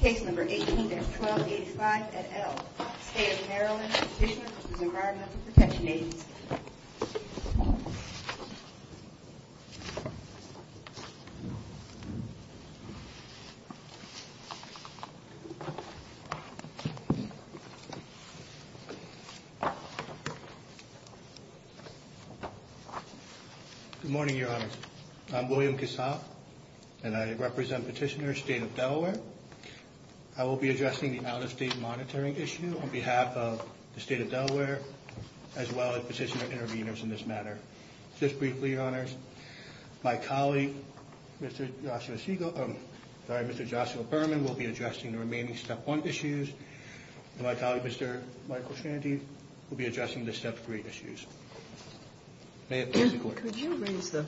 Case number 18-1285 at Elk, State of Maryland, District of New Brunswick, Detention Agency. Good morning, Your Honor. I'm William Cassatt, and I represent Petitioner, State of Delaware. I will be addressing the out-of-state monitoring issue on behalf of the State of Delaware, as well as Petitioner interveners in this matter. Just briefly, Your Honors, my colleague, Mr. Joshua Berman, will be addressing the remaining Step 1 issues, and my colleague, Mr. Michael Sandy, will be addressing the Step 3 issues. Could you raise the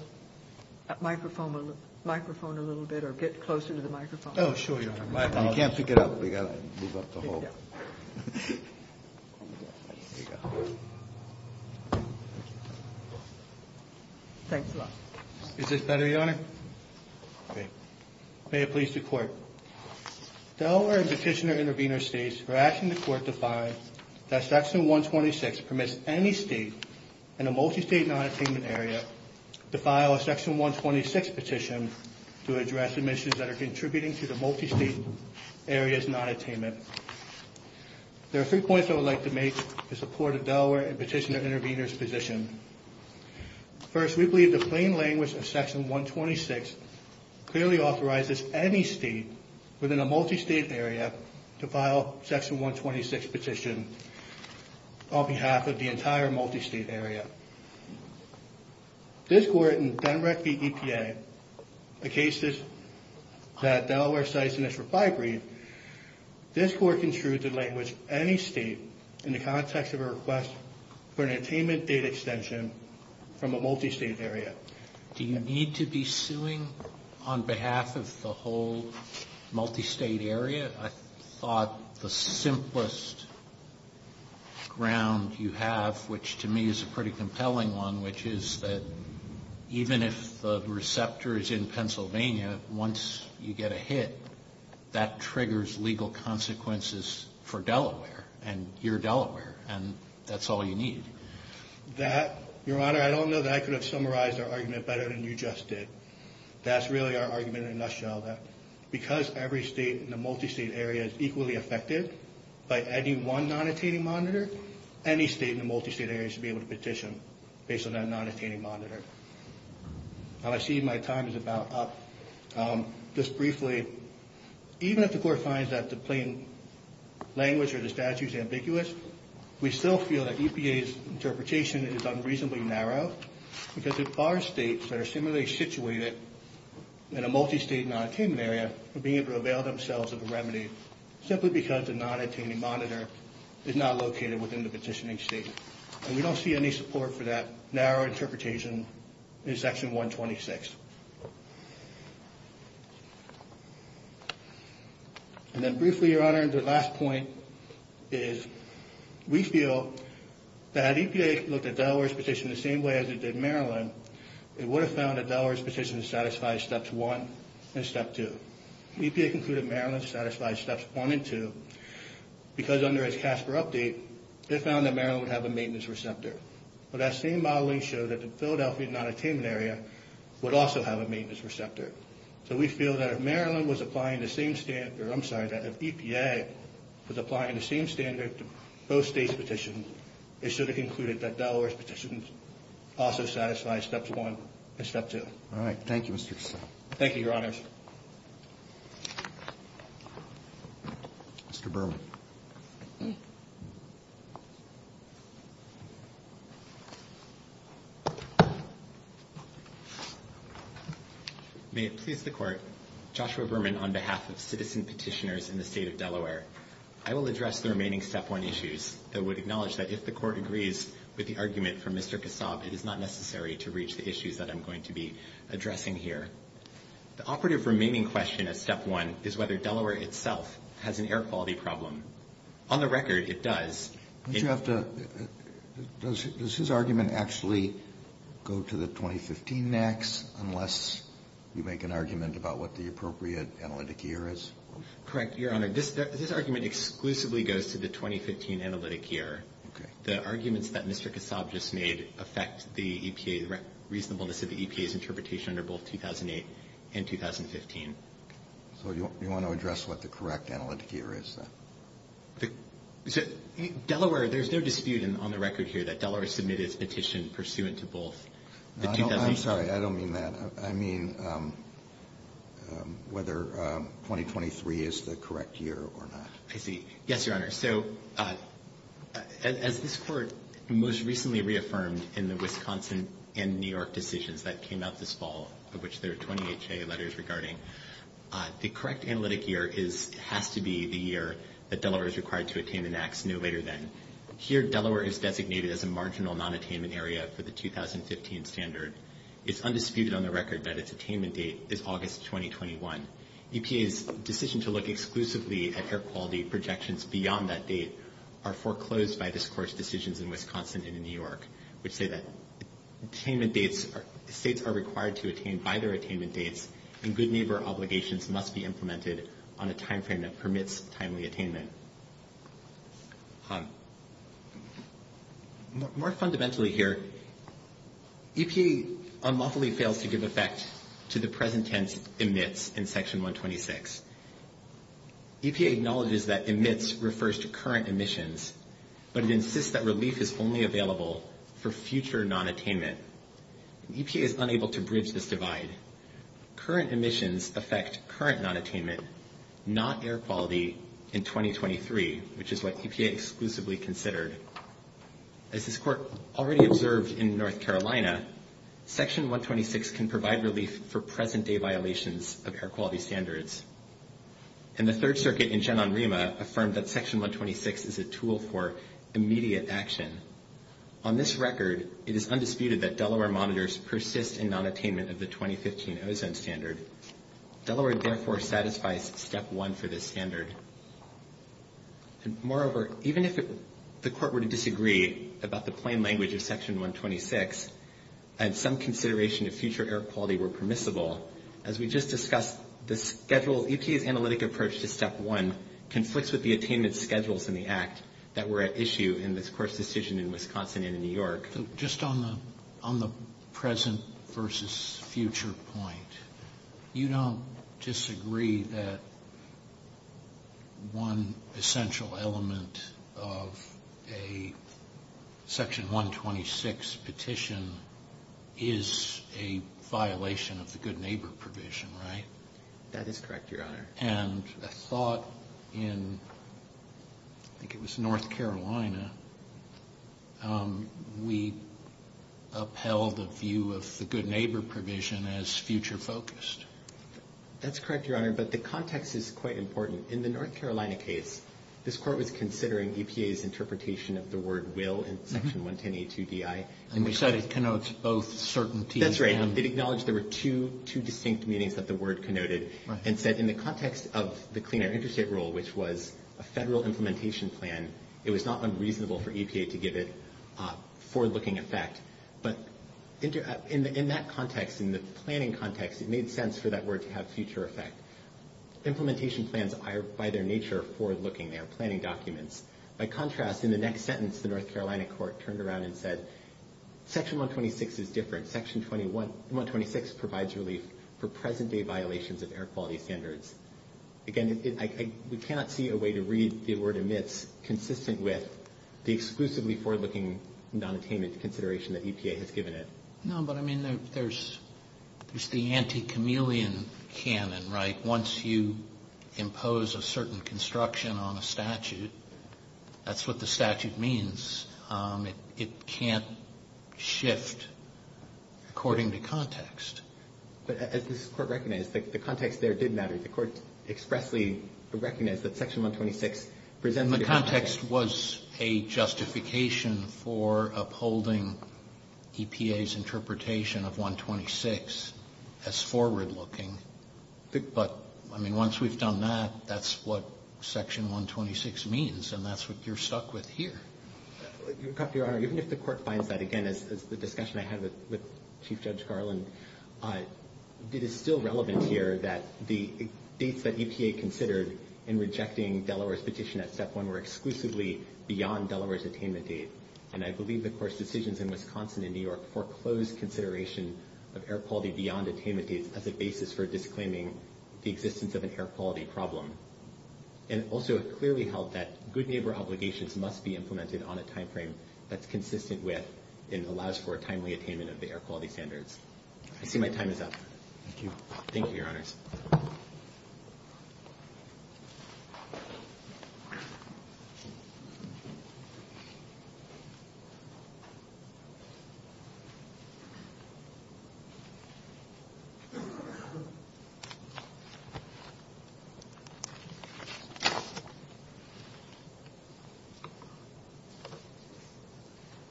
microphone a little bit, or get closer to the microphone? Oh, sure, Your Honor. Is this better, Your Honor? May it please the Court. Delaware and Petitioner intervener states are asking the Court to find that Section 126 permits any state in a multi-state non-attainment area to file a Section 126 petition to address the measures that are contributing to the multi-state area's non-attainment. There are three points I would like to make in support of Delaware and Petitioner intervener's position. First, we believe the plain language of Section 126 clearly authorizes any state within a multi-state area to file a Section 126 petition on behalf of the entire multi-state area. This Court in Denmark v. EPA, the cases that Delaware cites in its reply brief, this Court construed the language, any state, in the context of a request for an attainment date extension from a multi-state area. Do you need to be suing on behalf of the whole multi-state area? I thought the simplest ground you have, which to me is a pretty compelling one, which is that even if the receptor is in Pennsylvania, once you get a hit, that triggers legal consequences for Delaware, and you're Delaware, and that's all you need. That, Your Honor, I don't know that I could have summarized our argument better than you just did. That's really our argument in a nutshell, that because every state in a multi-state area is equally affected by any one non-attaining monitor, any state in a multi-state area should be able to petition based on that non-attaining monitor. I see my time is about up. Just briefly, even if the Court finds that the plain language or the statute is ambiguous, we still feel that EPA's interpretation is unreasonably narrow, because it bars states that are similarly situated in a multi-state non-attainment area from being able to avail themselves of a remedy, simply because the non-attaining monitor is not located within the petitioning state. We don't see any support for that narrow interpretation in Section 126. And then briefly, Your Honor, the last point is we feel that if EPA looked at Delaware's petition the same way as it did Maryland, it would have found that Delaware's petition satisfied Steps 1 and Step 2. EPA concluded Maryland satisfied Steps 1 and 2, because under its CASPER update, it found that Maryland would have a maintenance receptor. But that same modeling showed that the Philadelphia non-attainment area would also have a maintenance receptor. So we feel that if Maryland was applying the same standard, or I'm sorry, that if EPA was applying the same standard to both states' petitions, it should have concluded that Delaware's petitions also satisfied Steps 1 and Step 2. All right. Thank you, Mr. Kessler. Thank you, Your Honor. Mr. Burl. May it please the Court, Joshua Berman on behalf of citizen petitioners in the State of Delaware. I will address the remaining Step 1 issues. I would acknowledge that if the Court agrees with the argument from Mr. Kassab, it is not necessary to reach the issues that I'm going to be addressing here. The operative remaining question at Step 1 is whether Delaware itself has an air quality problem. On the record, it does. Does his argument actually go to the 2015 NAICS, unless you make an argument about what the appropriate analytic year is? Correct, Your Honor. This argument exclusively goes to the 2015 analytic year. The arguments that Mr. Kassab just made affect the reasonableness of the EPA's interpretation under both 2008 and 2015. So you want to address what the correct analytic year is, then? So Delaware, there's no dispute on the record here that Delaware submitted a petition pursuant to both. I'm sorry, I don't mean that. I mean whether 2023 is the correct year or not. I see. Yes, Your Honor. So as this Court most recently reaffirmed in the Wisconsin and New York decisions that came out this fall, of which there are 20 HA letters regarding, the correct analytic year has to be the year that Delaware is required to attain the NAICS no later than. Here, Delaware is designated as a marginal non-attainment area for the 2015 standard. It's undisputed on the record that its attainment date is August 2021. EPA's decision to look exclusively at air quality projections beyond that date are foreclosed by this Court's decisions in Wisconsin and New York, which say that states are required to attain by their attainment dates and good neighbor obligations must be implemented on a timeframe that permits timely attainment. More fundamentally here, EPA unlawfully fails to give effect to the present tense emits in Section 126. EPA acknowledges that emits refers to current emissions, but it insists that release is only available for future non-attainment. EPA is unable to bridge this divide. Current emissions affect current non-attainment, not air quality, in 2023, which is what EPA exclusively considered. As this Court already observed in North Carolina, Section 126 can provide release for present-day violations of air quality standards. And the Third Circuit in Gen. Rima affirmed that Section 126 is a tool for immediate action. On this record, it is undisputed that Delaware monitors persist in non-attainment of the 2015 ozone standard. Delaware therefore satisfies Step 1 for this standard. Moreover, even if the Court were to disagree about the plain language of Section 126 and some consideration of future air quality were permissible, as we just discussed, the schedule... EPA's analytic approach to Step 1 conflicts with the attainment schedules in the Act that were at issue in this Court's decision in Wisconsin and in New York. So just on the present versus future point, you don't disagree that one essential element of a Section 126 petition is a violation of the Good Neighbor Provision, right? That is correct, Your Honor. And I thought in, I think it was North Carolina, we upheld the view of the Good Neighbor Provision as future-focused. That's correct, Your Honor, but the context is quite important. In the North Carolina case, this Court was considering EPA's interpretation of the word will in Section 110A2Bi. And so it connotes both certainty and... That's right. It acknowledged there were two distinct meanings that the word connoted and said in the context of the Clean Air Interstate Rule, which was a federal implementation plan, it was not unreasonable for EPA to give it forward-looking effect. But in that context, in the planning context, it made sense for that word to have future effect. Implementation plans are, by their nature, forward-looking. They are planning documents. By contrast, in the next sentence, the North Carolina Court turned around and said, Section 126 is different. Section 126 provides relief for present-day violations of air quality standards. Again, we cannot see a way to read the word amidst, consistent with, the exclusively forward-looking nonattainment consideration that EPA has given it. No, but, I mean, there's the anti-chameleon canon, right? Once you impose a certain construction on a statute, that's what the statute means. It can't shift according to context. As the Court recognized, the context there did matter. The Court expressly recognized that Section 126 presented the context was a justification for upholding EPA's interpretation of 126 as forward-looking. But, I mean, once we've done that, that's what Section 126 means, and that's what you're stuck with here. Your Honor, even if the Court finds that, again, as the discussion I had with Chief Judge Garland, it is still relevant here that the things that EPA considered in rejecting Delaware's petition at Step 1 were exclusively beyond Delaware's attainment date. And I believe, of course, decisions in Wisconsin and New York foreclosed consideration of air quality beyond attainment dates as a basis for disclaiming the existence of an air quality problem. And also, it's clearly held that good neighbor obligations must be implemented on a timeframe that's consistent with and allows for a timely attainment of the air quality standards. I see my time is up. Thank you, Your Honors.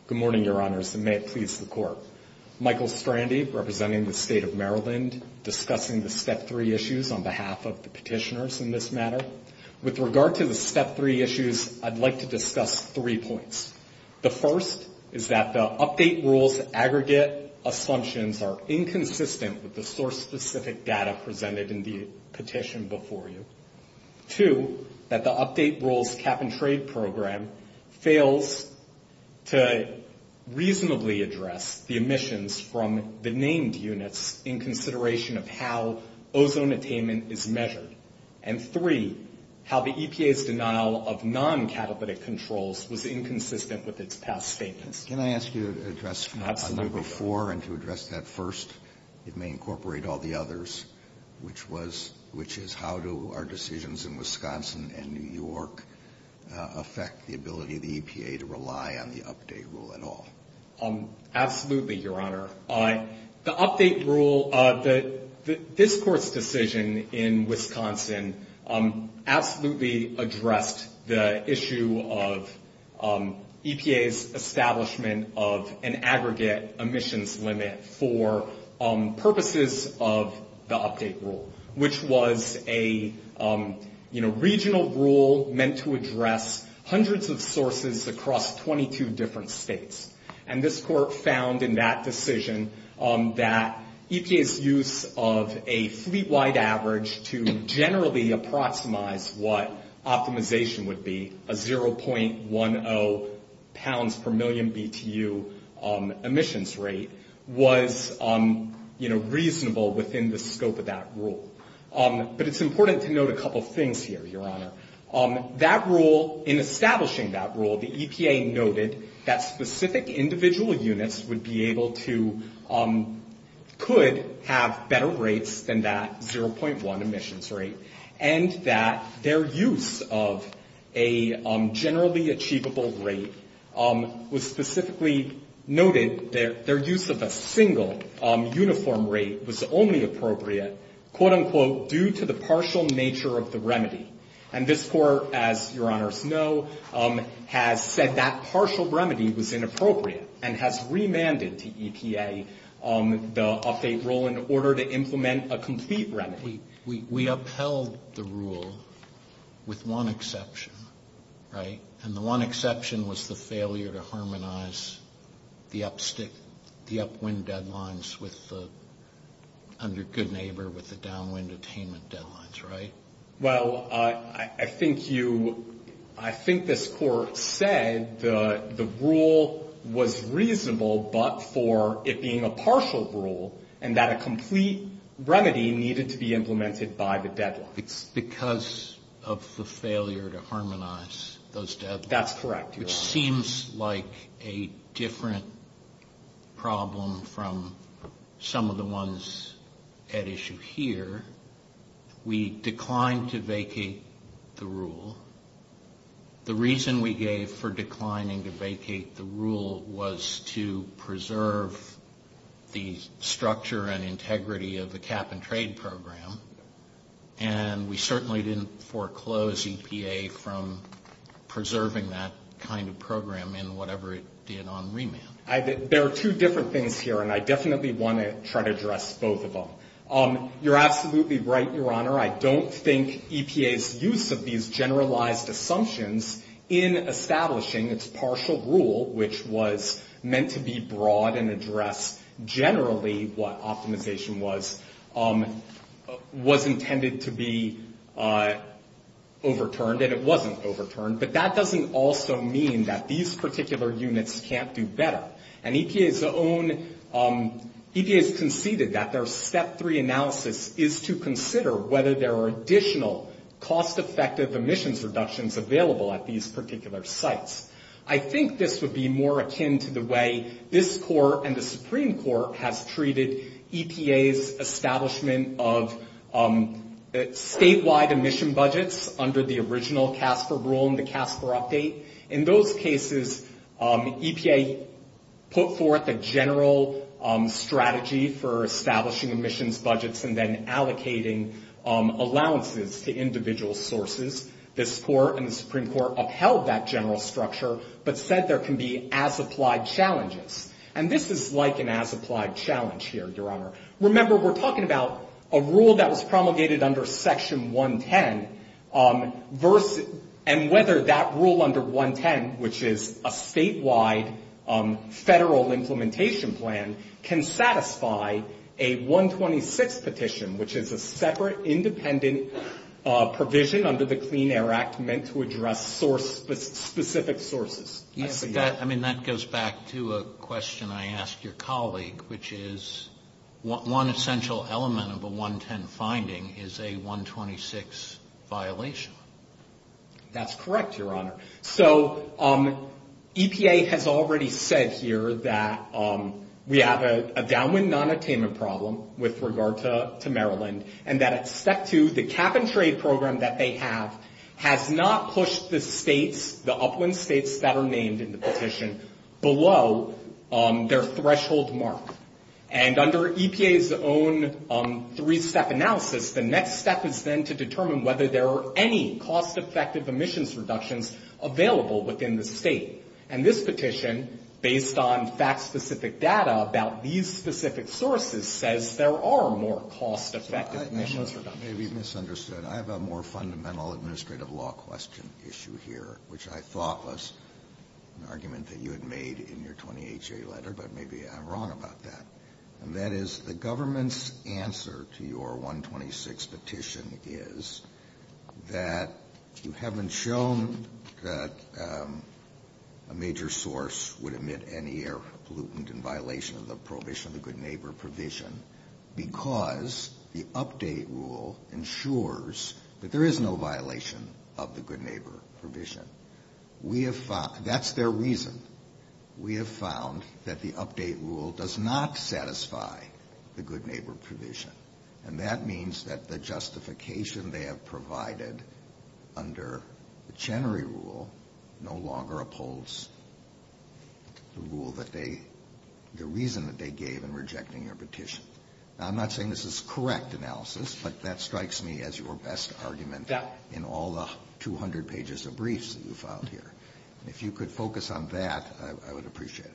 Good morning, Your Honors, and may it please the Court. Michael Strandy, representing the State of Maryland, discussing the Step 3 issues on behalf of the petitioners in this matter. With regard to the Step 3 issues, I'd like to discuss three points. The first is that the update rules aggregate assumptions are inconsistent with the source-specific data presented in the petition before you. Two, that the update rules cap-and-trade program fails to reasonably address the emissions from the named units in consideration of how ozone attainment is measured. And three, how the EPA's denial of non-catalytic controls was inconsistent with its past statements. Can I ask you to address number four and to address that first? It may incorporate all the others, which is how do our decisions in Wisconsin and New York affect the ability of the EPA to rely on the update rule at all? Absolutely, Your Honor. The update rule, this Court's decision in Wisconsin, absolutely addressed the issue of EPA's establishment of an aggregate emissions limit for purposes of the update rule, which was a regional rule meant to address hundreds of sources across 22 different states. And this Court found in that decision that EPA's use of a three-wide average to generally approximate what optimization would be, a 0.10 pounds per million BTU emissions rate, was reasonable within the scope of that rule. But it's important to note a couple things here, Your Honor. That rule, in establishing that rule, the EPA noted that specific individual units would be able to, could have better rates than that 0.1 emissions rate, and that their use of a generally achievable rate was specifically noted, their use of a single uniform rate was only appropriate, quote-unquote, due to the partial nature of the remedy. And this Court, as Your Honors know, has said that partial remedy was inappropriate and has remanded to EPA the update rule in order to implement a complete remedy. We upheld the rule with one exception, right? And the one exception was the failure to harmonize the upwind deadlines with the, on your good neighbor with the downwind attainment deadlines, right? Well, I think you, I think this Court said the rule was reasonable but for it being a partial rule and that a complete remedy needed to be implemented by the deadline. Because of the failure to harmonize those deadlines. That's correct, Your Honor. It seems like a different problem from some of the ones at issue here. We declined to vacate the rule. The reason we gave for declining to vacate the rule was to preserve the structure and integrity of the cap and trade program. And we certainly didn't foreclose EPA from preserving that kind of program in whatever it did on remand. There are two different things here and I definitely want to try to address both of them. You're absolutely right, Your Honor. I don't think EPA's use of these generalized assumptions in establishing its partial rule, which was meant to be broad and address generally what optimization was, was intended to be overturned and it wasn't overturned. But that doesn't also mean that these particular units can't do better. And EPA's own, EPA's conceded that their step three analysis is to consider whether there are additional cost-effective emissions reductions available at these particular sites. I think this would be more akin to the way this Court and the Supreme Court have treated EPA's establishment of statewide emission budgets under the original CASPER rule and the CASPER update. In those cases, EPA put forth a general strategy for establishing emissions budgets and then allocating allowances to individual sources. This Court and the Supreme Court upheld that general structure but said there can be as-applied challenges. And this is like an as-applied challenge here, Your Honor. Remember, we're talking about a rule that was promulgated under Section 110 and whether that rule under 110, which is a statewide federal implementation plan, can satisfy a 126 petition, which is a separate independent provision under the Clean Air Act meant to address specific sources. I mean, that goes back to a question I asked your colleague, which is one essential element of a 110 finding is a 126 violation. That's correct, Your Honor. So EPA has already said here that we have a downwind nonattainment problem with regard to Maryland and that Step 2, the cap-and-trade program that they have, has not pushed the states, the upwind states that are named in the petition, below their threshold mark. And under EPA's own three-step analysis, the next step is then to determine whether there are any cost-effective emissions reductions available within the state. And this petition, based on fact-specific data about these specific sources, says there are more cost-effective emissions reductions. You may be misunderstood. I have a more fundamental administrative law question issued here, which I thought was an argument that you had made in your 28-J letter, but maybe I'm wrong about that. That is, the government's answer to your 126 petition is that you haven't shown that a major source would emit any air pollutant in violation of the Prohibition of the Good Neighbor provision because the update rule ensures that there is no violation of the Good Neighbor provision. That's their reason. We have found that the update rule does not satisfy the Good Neighbor provision, and that means that the justification they have provided under the Chenery rule no longer upholds the rule that they, the reason that they gave in rejecting the petition. Now, I'm not saying this is correct analysis, but that strikes me as your best argument in all the 200 pages of briefs that you found here. If you could focus on that, I would appreciate it.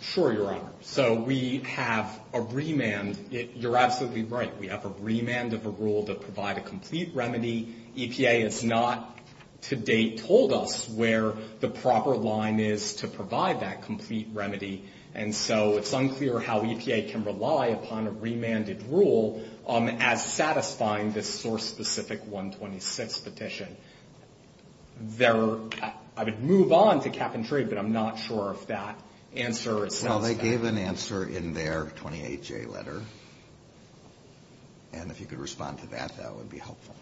Sure, Your Honor. So we have a remand. You're absolutely right. We have a remand of a rule to provide a complete remedy. EPA has not to date told us where the proper line is to provide that complete remedy, and so it's unclear how EPA can rely upon a remanded rule as satisfying this source-specific 126 petition. I would move on to cap and trade, but I'm not sure if that answer. Well, they gave an answer in their 28-J letter, and if you could respond to that, that would be helpful.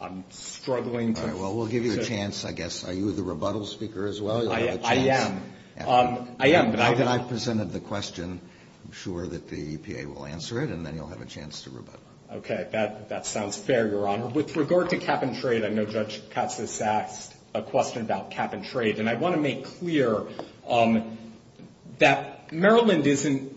I'm struggling. All right. Well, we'll give you a chance, I guess. Are you the rebuttal speaker as well? I am. I presented the question. I'm sure that the EPA will answer it, and then you'll have a chance to rebuttal. Okay. That sounds fair, Your Honor. With regard to cap and trade, I know Judge Katz has asked a question about cap and trade, and I want to make clear that Maryland isn't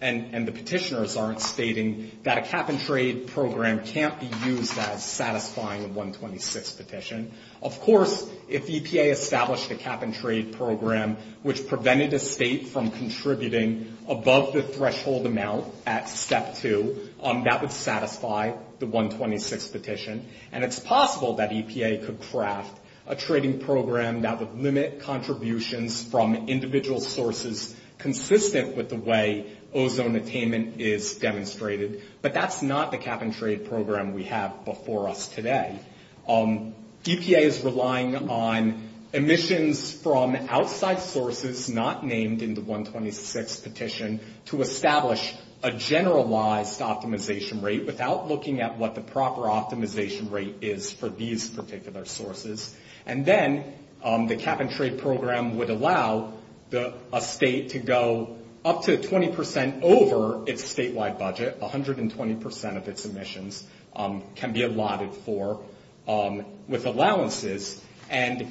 and the petitioners aren't stating that a cap and trade program can't be used as satisfying a 126 petition. Of course, if EPA established a cap and trade program, which prevented the state from contributing above the threshold amount at step two, that would satisfy the 126 petition, and it's possible that EPA could craft a trading program that would limit contributions from individual sources consistent with the way ozone attainment is demonstrated, but that's not the cap and trade program we have before us today. EPA is relying on emissions from outside sources not named in the 126 petition to establish a generalized optimization rate without looking at what the proper optimization rate is for these particular sources, and then the cap and trade program would allow a state to go up to 20 percent over its statewide budget, 120 percent of its emissions can be allotted for with allowances, and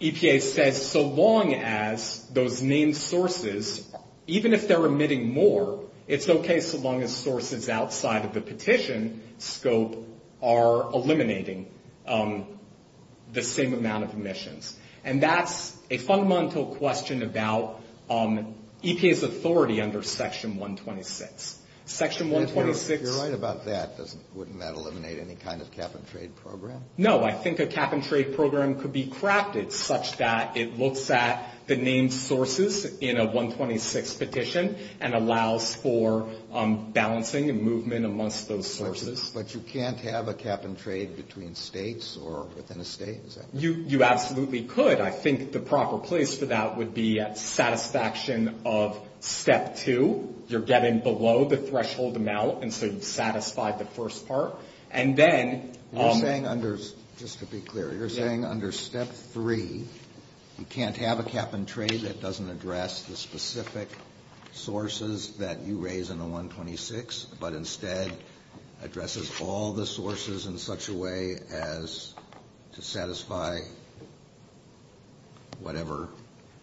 EPA said so long as those main sources, even if they're emitting more, it's okay so long as sources outside of the petition scope are eliminating the same amount of emissions, and that's a fundamental question about EPA's authority under Section 126. Section 126. You're right about that. Wouldn't that eliminate any kind of cap and trade program? No. I think a cap and trade program could be crafted such that it looks at the named sources in a 126 petition and allows for balancing and movement amongst those sources. But you can't have a cap and trade between states or within a state? You absolutely could. I think the proper place for that would be at satisfaction of Step 2. You're getting below the threshold now, and so you've satisfied the first part. Just to be clear, you're saying under Step 3, you can't have a cap and trade that doesn't address the specific sources that you raise in a 126, but instead addresses all the sources in such a way as to satisfy whatever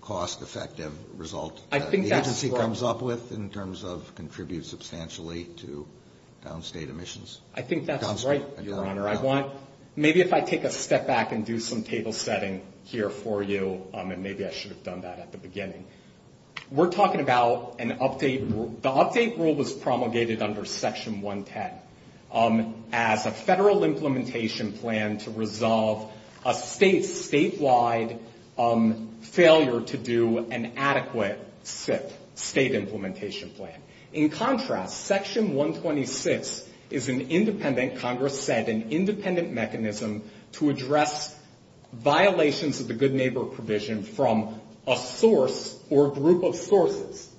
cost-effective result the agency comes up with in terms of contributes substantially to downstate emissions? I think that's right, Your Honor. Maybe if I take a step back and do some table setting here for you, and maybe I should have done that at the beginning. We're talking about an update. The update rule was promulgated under Section 110 as a federal implementation plan to resolve a state-wide failure to do an adequate fit state implementation plan. In contrast, Section 126 is an independent, Congress said, an independent mechanism to address violations of the Good Neighbor Provision from a source or group of sources.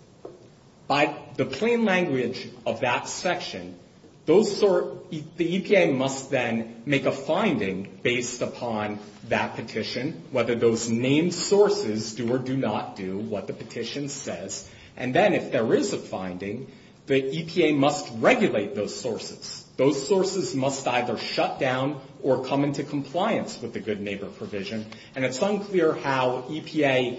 By the plain language of that section, the EPA must then make a finding based upon that petition, whether those named sources do or do not do what the petition says. And then if there is a finding, the EPA must regulate those sources. Those sources must either shut down or come into compliance with the Good Neighbor Provision, and it's unclear how EPA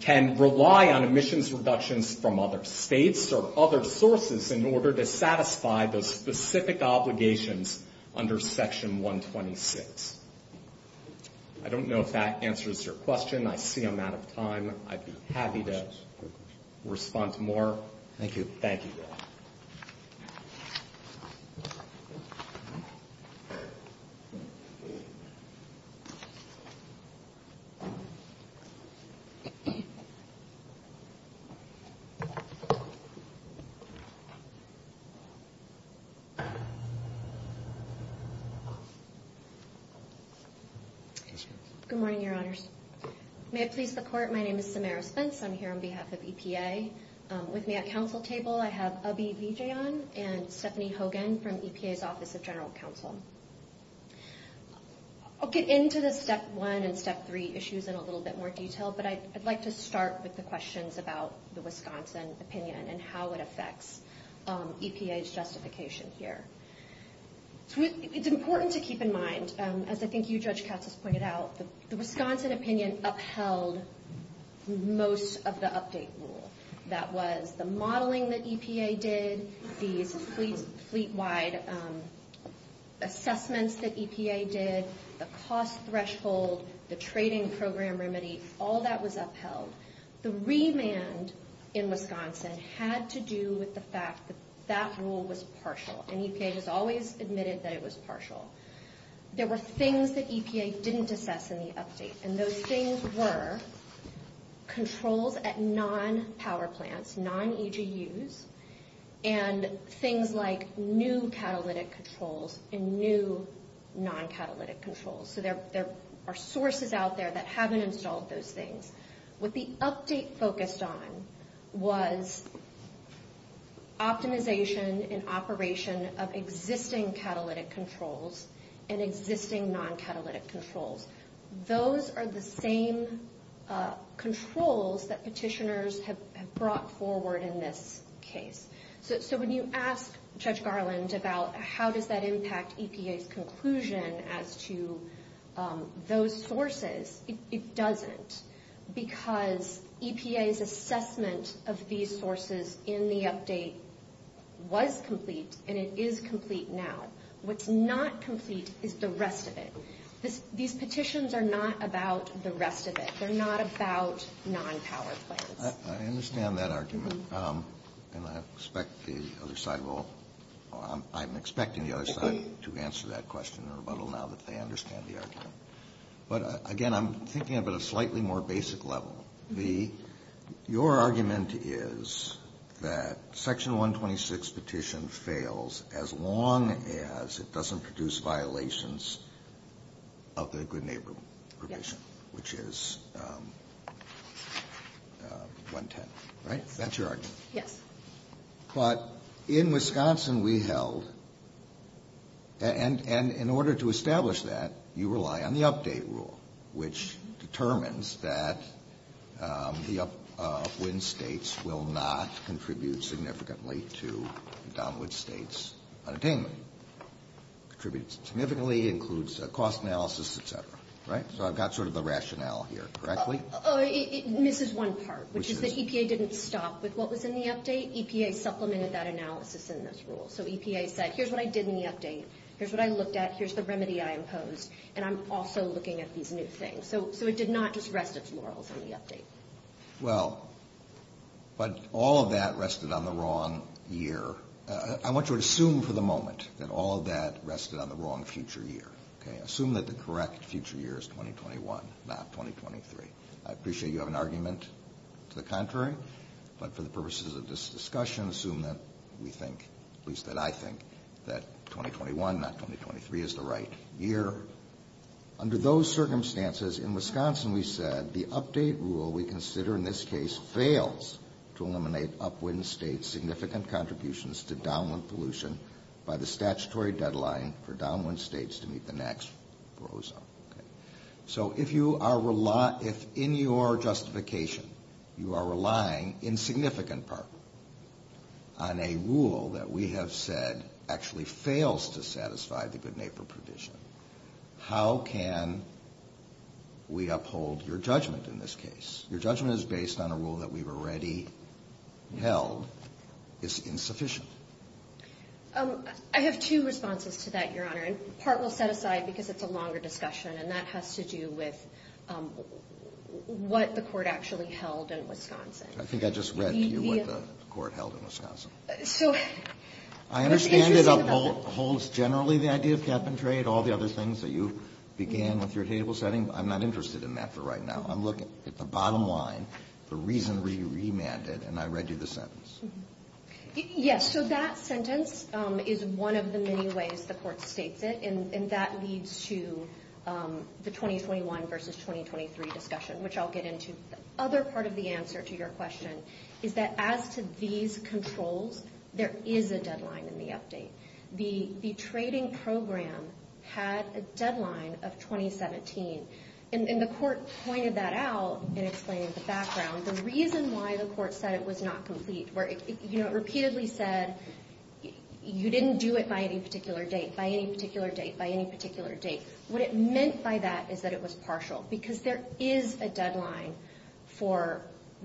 can rely on emissions reductions from other states or other sources in order to satisfy those specific obligations under Section 126. I don't know if that answers your question. I see I'm out of time. I'd be happy to respond to more. Thank you. Thank you. Good morning, Your Honors. May I please support? My name is Samara Spence. I'm here on behalf of EPA. With me at Council table, I have Abhi Vijayan and Stephanie Hogan from EPA's Office of General Counsel. I'll get into the Step 1 and Step 3 issues in a little bit more detail, but I'd like to start with the questions about the Wisconsin opinion and how it affects EPA's justification here. It's important to keep in mind, as I think you, Judge Katz, pointed out, the Wisconsin opinion upheld most of the update rule. That was the modeling that EPA did, the suite-wide assessments that EPA did, the cost threshold, the trading program remedies, all that was upheld. The remand in Wisconsin had to do with the fact that that rule was partial, There were things that EPA didn't assess in the update, and those things were controls at non-power plants, non-EGUs, and things like new catalytic controls and new non-catalytic controls. So there are sources out there that haven't installed those things. What the update focused on was optimization and operation of existing catalytic controls and existing non-catalytic controls. Those are the same controls that petitioners have brought forward in this case. So when you ask Judge Garland about how does that impact EPA's conclusion as to those sources, it doesn't, because EPA's assessment of these sources in the update was complete, and it is complete now. What's not complete is the rest of it. These petitions are not about the rest of it. They're not about non-power plants. I understand that argument, and I expect the other side will— I'm expecting the other side to answer that question a little now that they understand the argument. But, again, I'm thinking about a slightly more basic level. Your argument is that Section 126 petition fails as long as it doesn't produce violations of the Good Neighbor petition, which is 110, right? That's your argument. But in Wisconsin, we held—and in order to establish that, you rely on the update rule, which determines that the upwind states will not contribute significantly to the downward states' attainment. Contributes significantly, includes cost analysis, et cetera, right? So I've got sort of the rationale here, correctly? This is one part, which is the EPA didn't stop with what was in the update. EPA supplemented that analysis in this rule. So EPA said, here's what I did in the update. Here's what I looked at. Here's the remedy I imposed. And I'm also looking at these new things. So it did not just rest a few hours in the update. Well, but all of that rested on the wrong year. I want you to assume for the moment that all of that rested on the wrong future year, okay? I appreciate you have an argument to the contrary. But for the purposes of this discussion, assume that we think, at least that I think, that 2021, not 2023, is the right year. Under those circumstances, in Wisconsin, we said, the update rule we consider in this case fails to eliminate upwind states' significant contributions to downwind pollution by the statutory deadline for downwind states to meet the next foreclosure. So if in your justification you are relying, in significant part, on a rule that we have said actually fails to satisfy the good neighbor provision, how can we uphold your judgment in this case? Your judgment is based on a rule that we've already held is insufficient. I have two responses to that, Your Honor. And part will set aside because it's a longer discussion, and that has to do with what the court actually held in Wisconsin. I think I just read to you what the court held in Wisconsin. I understand it upholds generally the idea of cap and trade, all the other things that you began with your table setting. I'm not interested in that for right now. I'm looking at the bottom line, the reason we remanded, and I read you the sentence. Yes, so that sentence is one of the many ways the court states it, and that leads to the 2021 versus 2023 discussion, which I'll get into. The other part of the answer to your question is that as to these controls, there is a deadline in the update. The trading program had a deadline of 2017, and the court pointed that out and explained the background. The reason why the court said it was not complete, where it repeatedly said, you didn't do it by any particular date, by any particular date, by any particular date, what it meant by that is that it was partial, because there is a deadline for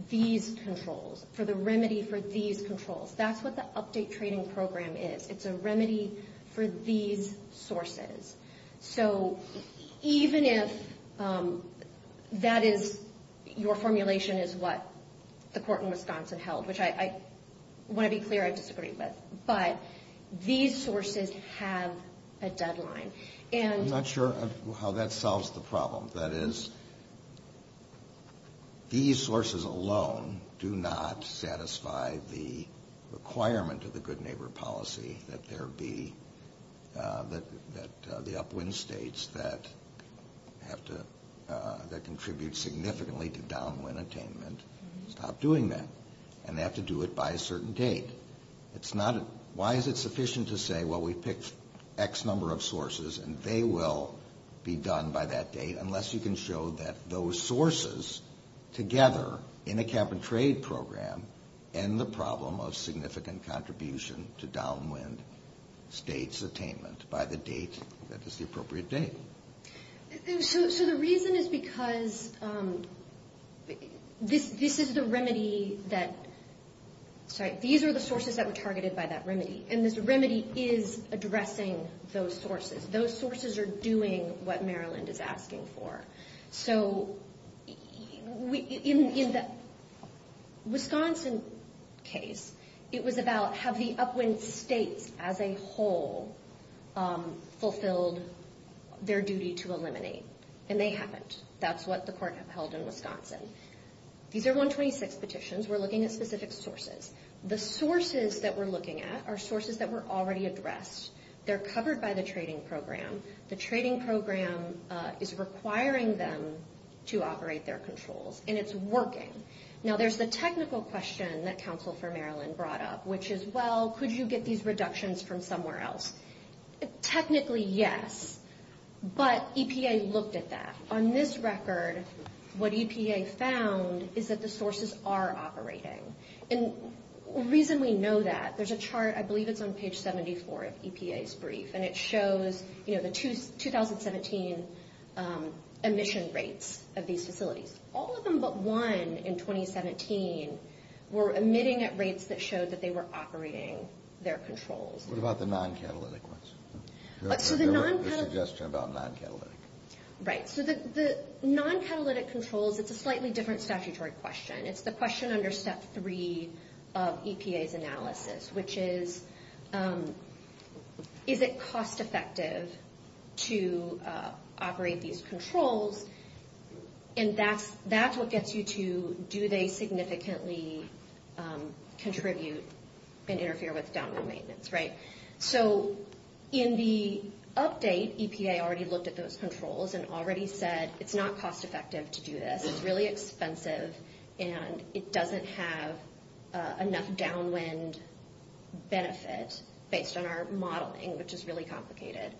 these controls, for the remedy for these controls. That's what the update trading program is. It's a remedy for these sources. So even if that is your formulation is what the court in Wisconsin held, which I want to be clear I disagree with, but these sources have a deadline. I'm not sure how that solves the problem. That is, these sources alone do not satisfy the requirement of the good neighbor policy that the upwind states that contribute significantly to downwind attainment stop doing that, and they have to do it by a certain date. Why is it sufficient to say, well, we picked X number of sources, and they will be done by that date, unless you can show that those sources, together in a cap-and-trade program, end the problem of significant contribution to downwind states' attainment by the date that is the appropriate date? So the reason is because this is the remedy that – sorry, these are the sources that were targeted by that remedy, and this remedy is addressing those sources. Those sources are doing what Maryland is asking for. So in the Wisconsin case, it was about how the upwind states, as a whole, fulfilled their duty to eliminate, and they haven't. That's what the court held in Wisconsin. These are 126 petitions. We're looking at specific sources. The sources that we're looking at are sources that were already addressed. They're covered by the trading program. The trading program is requiring them to operate their controls, and it's working. Now, there's a technical question that Counsel for Maryland brought up, which is, well, could you get these reductions from somewhere else? Technically, yes, but EPA looked at that. On this record, what EPA found is that the sources are operating. And the reason we know that, there's a chart, I believe it's on page 74 of EPA's brief, and it shows the 2017 emission rates of these facilities. All of them but one in 2017 were emitting at rates that showed that they were operating their controls. What about the non-catalytic ones? The suggestion about non-catalytic. Right. So the non-catalytic controls, it's a slightly different statutory question. It's the question under Step 3 of EPA's analysis, which is, is it cost-effective to operate these controls? And that's what gets you to, do they significantly contribute and interfere with download maintenance, right? So in the update, EPA already looked at those controls and already said it's not cost-effective to do that. It's really expensive and it doesn't have enough downwind benefit based on our modeling, which is really complicated,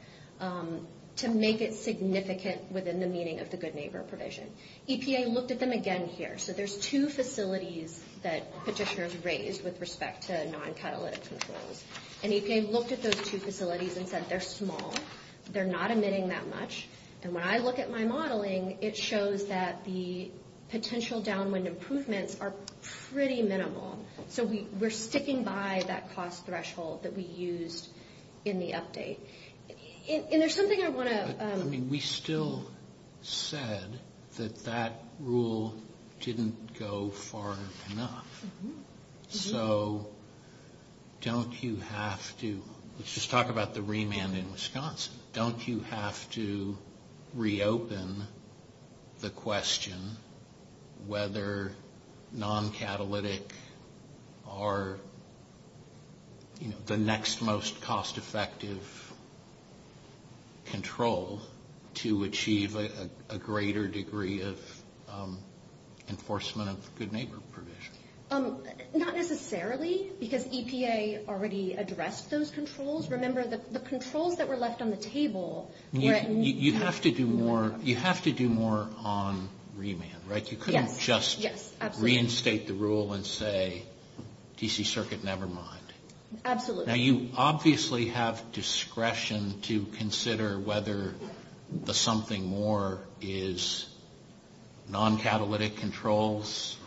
to make it significant within the meaning of the good neighbor provision. EPA looked at them again here. So there's two facilities that petitioners raised with respect to non-catalytic controls. And EPA looked at those two facilities and said they're small. They're not emitting that much. And when I look at my modeling, it shows that the potential downwind improvements are pretty minimal. So we're sticking by that cost threshold that we used in the update. And there's something I want to – We still said that that rule didn't go far enough. So don't you have to – let's just talk about the remand in Wisconsin. Don't you have to reopen the question whether non-catalytic are the next most cost-effective control to achieve a greater degree of enforcement of the good neighbor provision? Not necessarily, because EPA already addressed those controls. Remember, the controls that were left on the table were – You have to do more on remand, right? Yes. You couldn't just reinstate the rule and say DC circuit, never mind. Absolutely. Now, you obviously have discretion to consider whether the something more is non-catalytic controls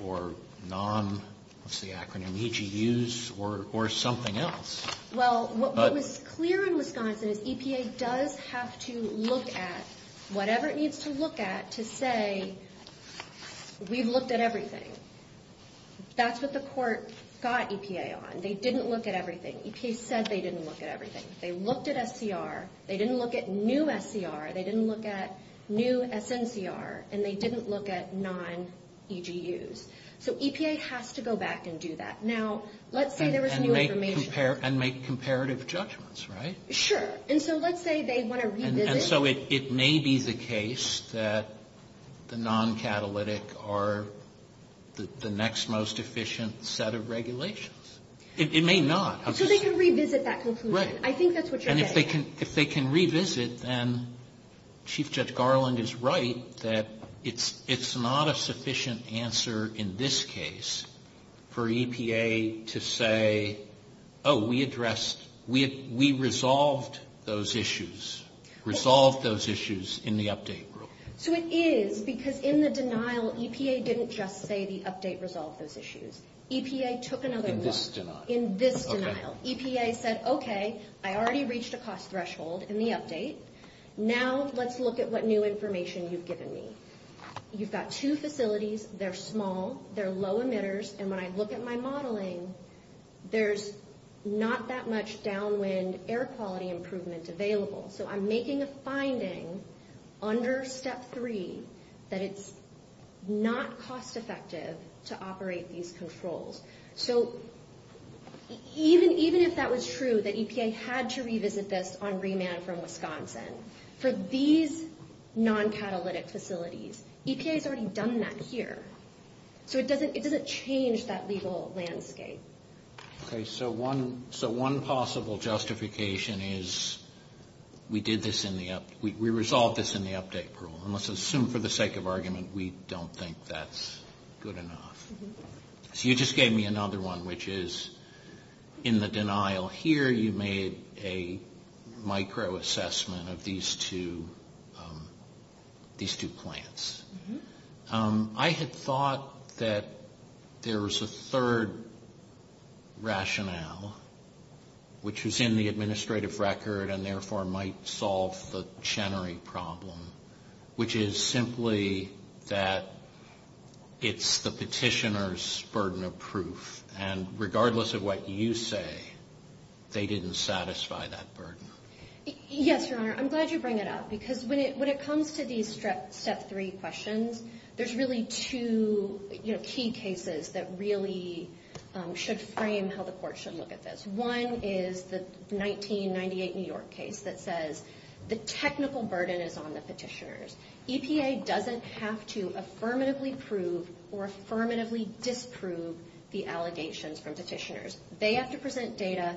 or non – what's the acronym – EGUs or something else. Well, what was clear in Wisconsin is EPA does have to look at whatever it needs to look at to say we've looked at everything. That's what the courts got EPA on. They didn't look at everything. EPA said they didn't look at everything. They looked at SCR. They didn't look at new SCR. They didn't look at new SNCR. And they didn't look at non-EGUs. So EPA has to go back and do that. And make comparative judgments, right? Sure. And so let's say they want to revisit – And so it may be the case that the non-catalytic are the next most efficient set of regulations. It may not. So they can revisit that conclusion. Right. I think that's what they're getting. And if they can revisit, then Chief Judge Garland is right that it's not a sufficient answer in this case for EPA to say, oh, we addressed – we resolved those issues, resolved those issues in the update rule. So it is because in the denial, EPA didn't just say the update resolved those issues. EPA took another look. In this denial. In this denial. In this denial. EPA said, okay, I already reached a cost threshold in the update. Now let's look at what new information you've given me. You've got two facilities. They're small. They're low emitters. And when I look at my modeling, there's not that much downwind air quality improvements available. So I'm making a finding under step three that it's not cost effective to operate these controls. So even if that was true, that EPA had to revisit this on remand from Wisconsin, for these non-catalytic facilities, EPA has already done that here. So it doesn't change that legal landscape. Okay. So one possible justification is we did this in the – we resolved this in the update rule. And let's assume for the sake of argument we don't think that's good enough. So you just gave me another one, which is in the denial here you made a microassessment of these two plants. I had thought that there was a third rationale, which was in the administrative record and therefore might solve the Chenery problem, which is simply that it's the petitioner's burden of proof. And regardless of what you say, they didn't satisfy that burden. Yes, Your Honor. I'm glad you bring that up because when it comes to these step three questions, there's really two key cases that really should frame how the court should look at this. One is the 1998 New York case that says the technical burden is on the petitioners. EPA doesn't have to affirmatively prove or affirmatively disprove the allegations from petitioners. They have to present data.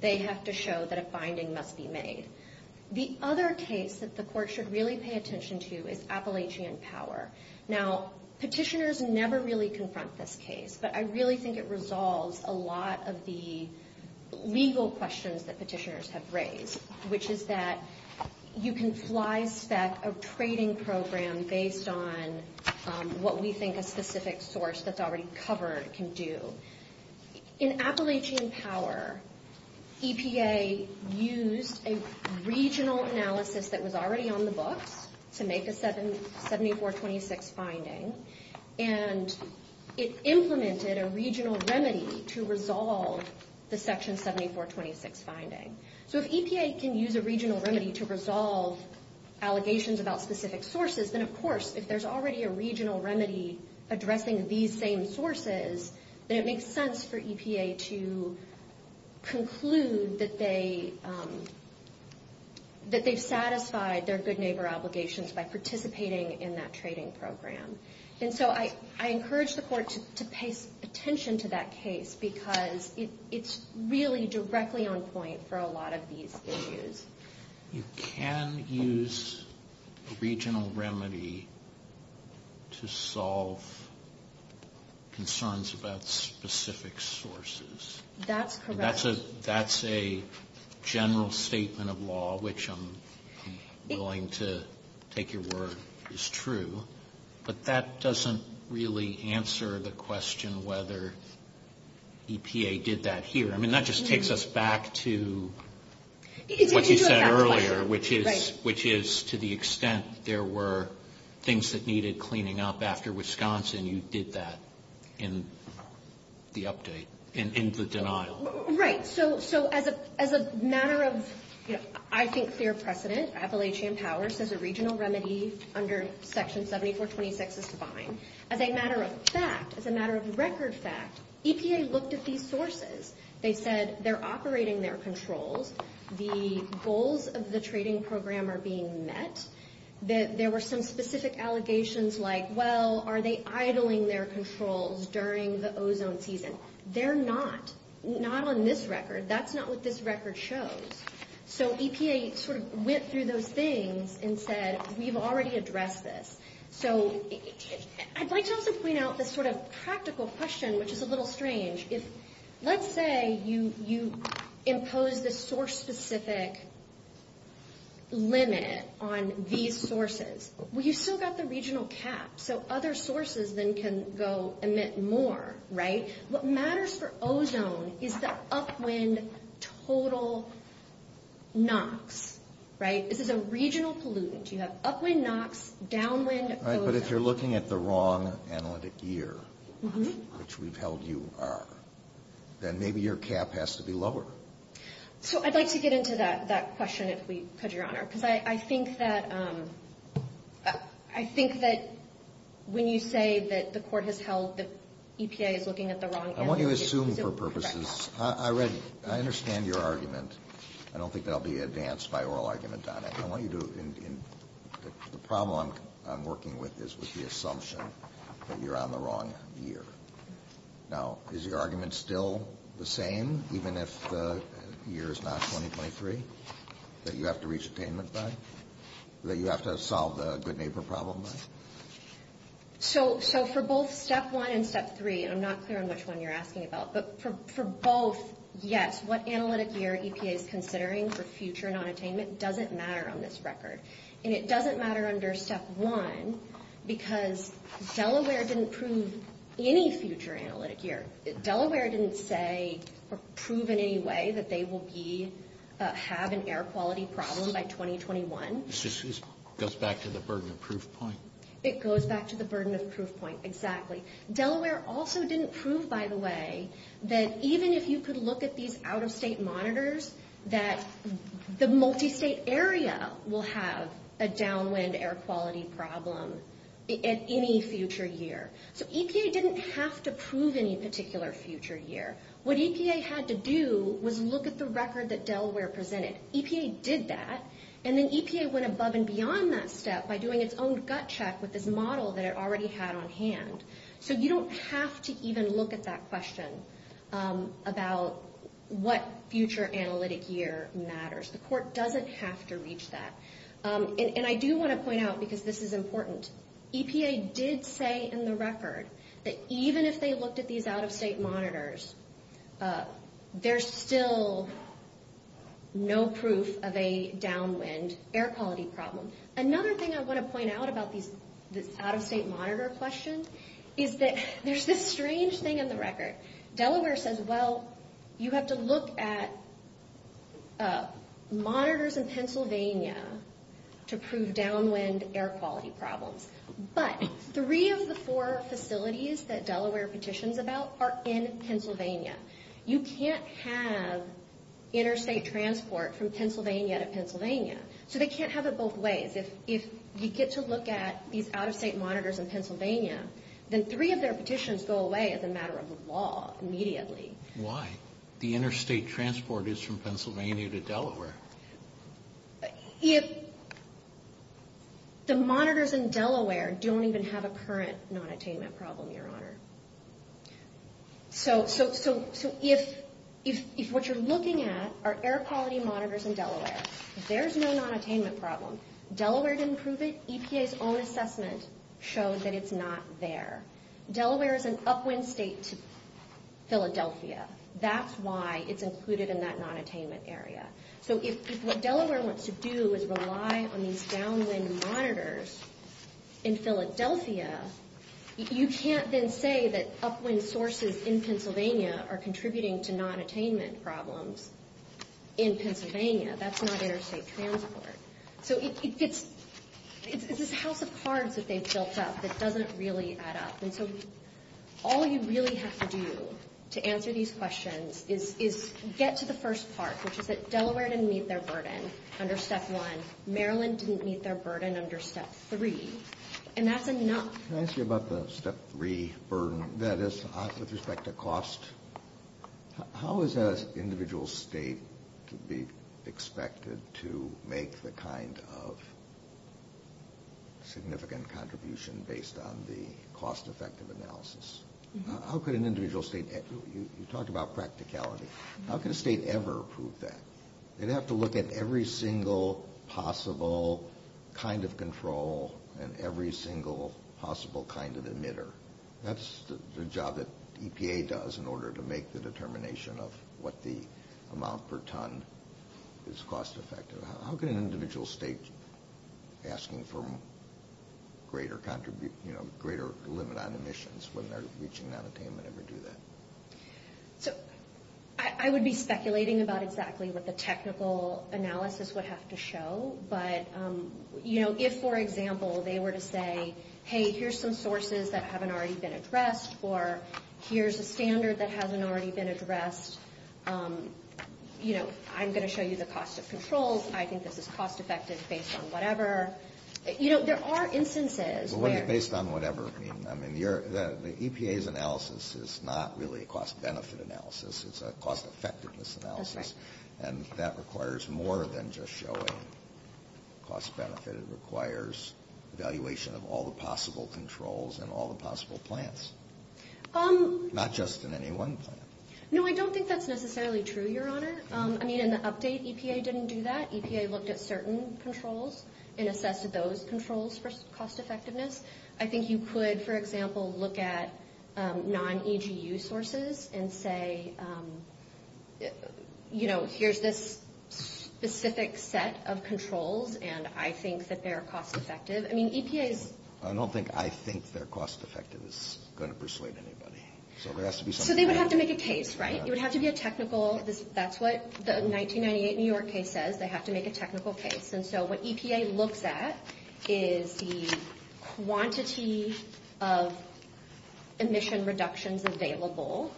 They have to show that a finding must be made. The other case that the court should really pay attention to is Appalachian Power. Now, petitioners never really confront this case, but I really think it resolves a lot of the legal questions that petitioners have raised, which is that you can slide stack a trading program based on what we think a specific source that's already covered can do. In Appalachian Power, EPA used a regional analysis that was already on the book to make a 7426 finding, and it implemented a regional remedy to resolve the Section 7426 finding. So if EPA can use a regional remedy to resolve allegations about specific sources, then, of course, if there's already a regional remedy addressing these same sources, then it makes sense for EPA to conclude that they've satisfied their good neighbor obligations by participating in that trading program. And so I encourage the court to pay attention to that case because it's really directly on point for a lot of these issues. You can use a regional remedy to solve concerns about specific sources. That's correct. That's a general statement of law, which I'm willing to take your word is true, but that doesn't really answer the question whether EPA did that here. I mean, that just takes us back to what you said earlier, which is to the extent there were things that needed cleaning up after Wisconsin, you did that in the update, in the denial. Right. So as a matter of, I think, fair precedent, Appalachian Power says a regional remedy under Section 7426 was fine. As a matter of fact, as a matter of record fact, EPA looked at these sources. They said they're operating their controls. The goals of the trading program are being met. There were some specific allegations like, well, are they idling their controls during the ozone season? They're not, not on this record. That's not what this record shows. So EPA sort of went through those things and said, we've already addressed this. I'd like to also point out this sort of practical question, which is a little strange. Let's say you impose a source-specific limit on these sources. Well, you've still got the regional cap, so other sources then can go emit more, right? What matters for ozone is the upwind total NOx, right? This is a regional pollutant. You have upwind NOx, downwind ozone. All right, but if you're looking at the wrong analytic year, which we've held you are, then maybe your cap has to be lower. So I'd like to get into that question, if we could, Your Honor. Because I think that when you say that the court has held that EPA is looking at the wrong analytic year, this is correct. I want you to assume for purposes. I understand your argument. I don't think that will be advanced by oral argument on it. The problem I'm working with is the assumption that you're on the wrong year. Now, is your argument still the same, even if the year is not 2023? That you have to reach attainment then? That you have to solve the good neighbor problem then? So for both Step 1 and Step 3, I'm not clear on which one you're asking about. But for both, yes, what analytic year EPA is considering for future and on attainment doesn't matter on this record. And it doesn't matter under Step 1 because Delaware didn't prove any future analytic year. Delaware didn't say or prove in any way that they will have an air quality problem by 2021. It goes back to the burden of proof point. It goes back to the burden of proof point, exactly. Delaware also didn't prove, by the way, that even if you could look at these out-of-state monitors, that the multi-state area will have a downwind air quality problem at any future year. So EPA didn't have to prove any particular future year. What EPA had to do was look at the record that Delaware presented. EPA did that. And then EPA went above and beyond that step by doing its own gut check with this model that it already had on hand. So you don't have to even look at that question about what future analytic year matters. The court doesn't have to reach that. And I do want to point out, because this is important, EPA did say in the record that even if they looked at these out-of-state monitors, there's still no proof of a downwind air quality problem. Another thing I want to point out about these out-of-state monitor questions is that there's this strange thing in the record. Delaware says, well, you have to look at monitors in Pennsylvania to prove downwind air quality problems. But three of the four facilities that Delaware petitions about are in Pennsylvania. You can't have interstate transport from Pennsylvania to Pennsylvania. So they can't have it both ways. If we get to look at these out-of-state monitors in Pennsylvania, then three of their petitions go away as a matter of law immediately. Why? The interstate transport is from Pennsylvania to Delaware. If the monitors in Delaware don't even have a current non-attainment problem, Your Honor. So if what you're looking at are air quality monitors in Delaware, there's no non-attainment problem. Delaware didn't prove it. EPA's own assessment shows that it's not there. Delaware is an upwind state to Philadelphia. That's why it's included in that non-attainment area. So if what Delaware wants to do is rely on these downwind monitors in Philadelphia, you can't then say that upwind sources in Pennsylvania are contributing to non-attainment problems in Pennsylvania. That's not interstate transport. So it's just how the cards that they've built up that doesn't really add up. And so all you really have to do to answer these questions is get to the first part, which is that Delaware didn't meet their burden under Step 1. Maryland didn't meet their burden under Step 3. Can I ask you about the Step 3 burden, that is, with respect to cost? How is an individual state to be expected to make the kind of significant contribution based on the cost-effective analysis? How could an individual state, you talked about practicality. How could a state ever prove that? They'd have to look at every single possible kind of control and every single possible kind of emitter. That's the job that EPA does in order to make the determination of what the amount per ton is cost-effective. How could an individual state, asking for a greater limit on emissions when they're reaching non-attainment, ever do that? So I would be speculating about exactly what the technical analysis would have to show. But, you know, if, for example, they were to say, hey, here's some sources that haven't already been addressed, or here's a standard that hasn't already been addressed, you know, I'm going to show you the cost of controls. I think this is cost-effective based on whatever. You know, there are instances. Based on whatever, I mean. The EPA's analysis is not really a cost-benefit analysis. It's a cost-effectiveness analysis. And that requires more than just showing cost-benefit. It requires evaluation of all the possible controls and all the possible plans, not just in any one plan. No, I don't think that's necessarily true, Your Honor. I mean, in the update, EPA didn't do that. EPA looked at certain controls and assessed those controls for cost-effectiveness. I think you could, for example, look at non-EGU sources and say, you know, here's this specific set of controls, and I think that they're cost-effective. I mean, EPA. I don't think I think they're cost-effective. It's not going to persuade anybody. So there would have to be something else. So they would have to make a case, right? It would have to be a technical. That's what the 1998 New York case says. They have to make a technical case. And so what EPA looked at is the quantity of emission reductions available,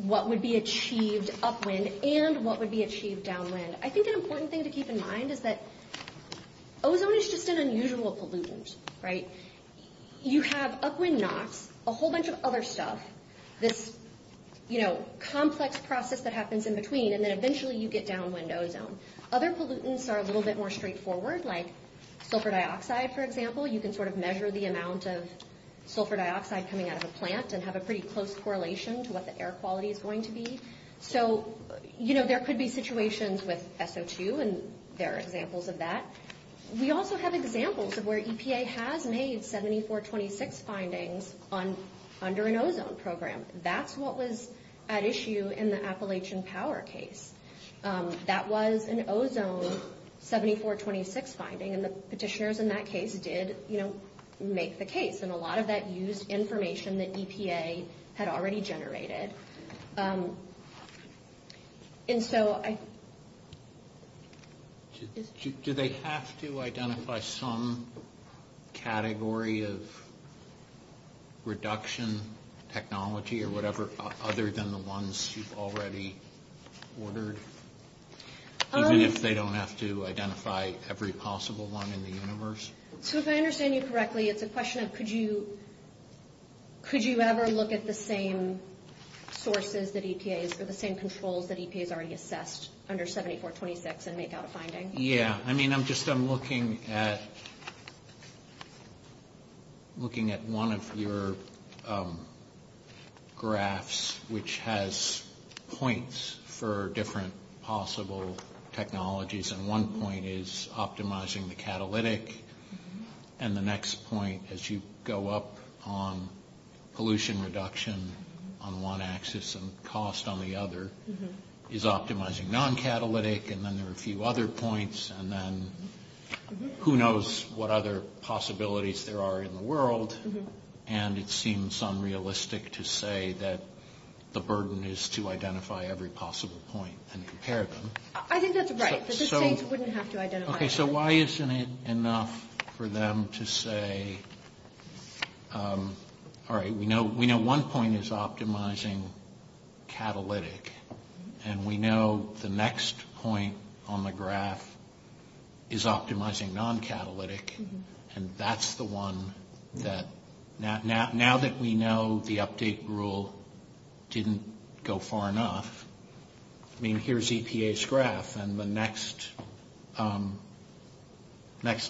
what would be achieved upwind, and what would be achieved downwind. I think an important thing to keep in mind is that ozone is just an unusual pollutant, right? You have upwind NOx, a whole bunch of other stuff, this, you know, complex process that happens in between, and then eventually you get downwind ozone. Other pollutants are a little bit more straightforward, like sulfur dioxide, for example. You can sort of measure the amount of sulfur dioxide coming out of a plant and have a pretty close correlation to what the air quality is going to be. So, you know, there could be situations with SO2, and there are examples of that. We also have examples of where EPA has made 7426 findings under an ozone program. That's what was at issue in the Appalachian Power case. That was an ozone 7426 finding, and the petitioners in that case did, you know, make the case. And a lot of that used information that EPA had already generated. Do they have to identify some category of reduction technology or whatever, other than the ones you've already ordered? Even if they don't have to identify every possible one in the universe? So if I understand you correctly, it's a question of could you ever look at the same sources that EPA has for the same controls that EPA has already assessed under 7426 and make out a finding? Yeah, I mean, I'm just looking at one of your graphs, which has points for different possible technologies, and one point is optimizing the catalytic, and the next point, as you go up on pollution reduction on one axis and cost on the other, is optimizing non-catalytic, and then there are a few other points, and then who knows what other possibilities there are in the world, and it seems unrealistic to say that the burden is to identify every possible point and compare them. I think that's right. Okay, so why isn't it enough for them to say, all right, we know one point is optimizing catalytic, and we know the next point on the graph is optimizing non-catalytic, and that's the one that, now that we know the update rule didn't go far enough, I mean, here's EPA's graph, and the next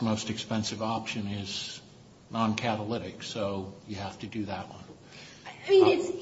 most expensive option is non-catalytic, so you have to do that one,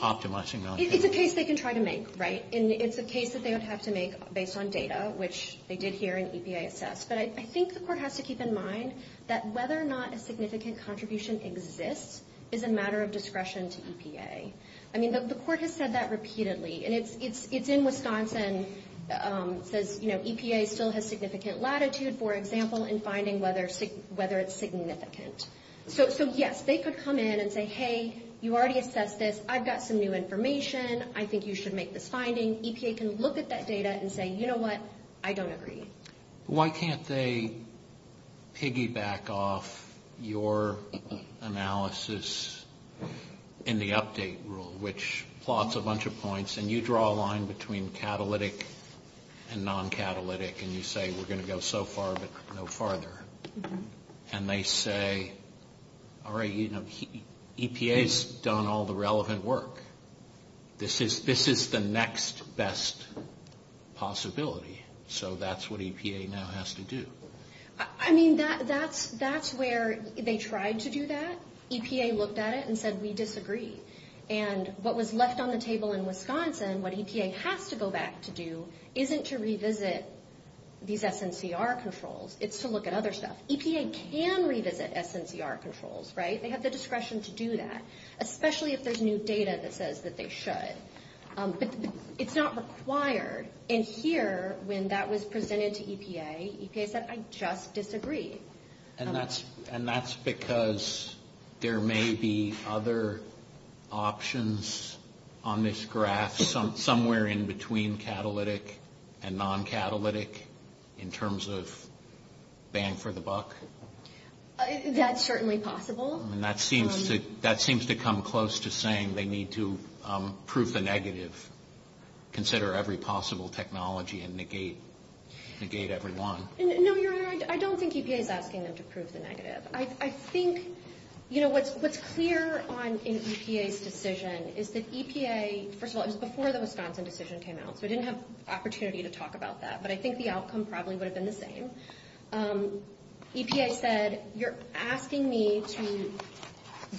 optimizing non-catalytic. It's a case they can try to make, right? It's a case that they would have to make based on data, which they did here in EPA-assessed, but I think the court has to keep in mind that whether or not a significant contribution exists is a matter of discretion to EPA. I mean, the court has said that repeatedly, and it's in Wisconsin. It says, you know, EPA still has significant latitude, for example, in finding whether it's significant. So, yes, they could come in and say, hey, you already assessed this. I've got some new information. I think you should make this finding. EPA can look at that data and say, you know what, I don't agree. Why can't they piggyback off your analysis in the update rule, which plots a bunch of points, and you draw a line between catalytic and non-catalytic, and you say we're going to go so far but no farther, and they say, all right, you know, EPA's done all the relevant work. This is the next best possibility. So that's what EPA now has to do. I mean, that's where they tried to do that. EPA looked at it and said, we disagree. And what was left on the table in Wisconsin, what EPA has to go back to do, isn't to revisit these SNCR controls. It's to look at other stuff. EPA can revisit SNCR controls, right? They have the discretion to do that, especially if there's new data that says that they should. It's not required. And here, when that was presented to EPA, EPA said, I just disagree. And that's because there may be other options on this graph somewhere in between catalytic and non-catalytic in terms of bang for the buck? That's certainly possible. And that seems to come close to saying they need to prove the negative, consider every possible technology, and negate everyone. No, Your Honor, I don't think EPA is asking them to prove the negative. I think, you know, what's clear in EPA's decision is that EPA, first of all, it was before the Wisconsin decision came out, so they didn't have the opportunity to talk about that. But I think the outcome probably would have been the same. EPA said, you're asking me to